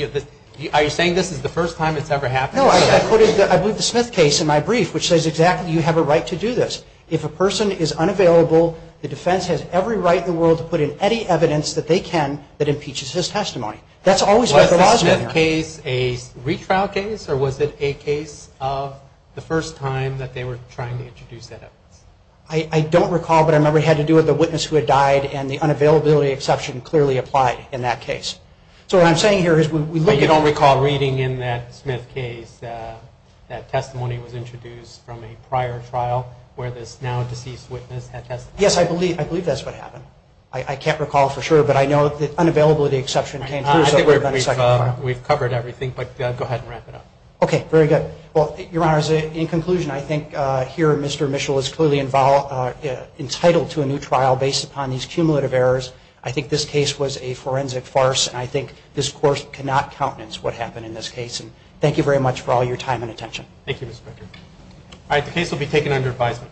Are you saying this is the first time it's ever happened? No, I quoted, I believe the Smith case in my brief, which says exactly, you have a right to do this. If a person is unavailable, the defense has every right in the world to put in any evidence that they can that impeaches his testimony. That's always what the law's been there. Was the Smith case a retrial case, or was it a case of the first time that they were trying to introduce that evidence? I don't recall, but I remember it had to do with the witness who had died, and the unavailability exception clearly applied in that case. So what I'm saying here is- You don't recall reading in that Smith case that testimony was introduced from a prior trial where this now-deceased witness had testified? Yes, I believe that's what happened. I can't recall for sure, but I know that unavailability exception came through- I think we've covered everything, but go ahead and wrap it up. Okay, very good. Well, Your Honors, in conclusion, I think here Mr. Mitchell is clearly entitled to a new trial based upon these cumulative errors. I think this case was a forensic farce, and I think this court cannot countenance what happened in this case. And thank you very much for all your time and attention. Thank you, Mr. Becker. All right, the case will be taken under advisement.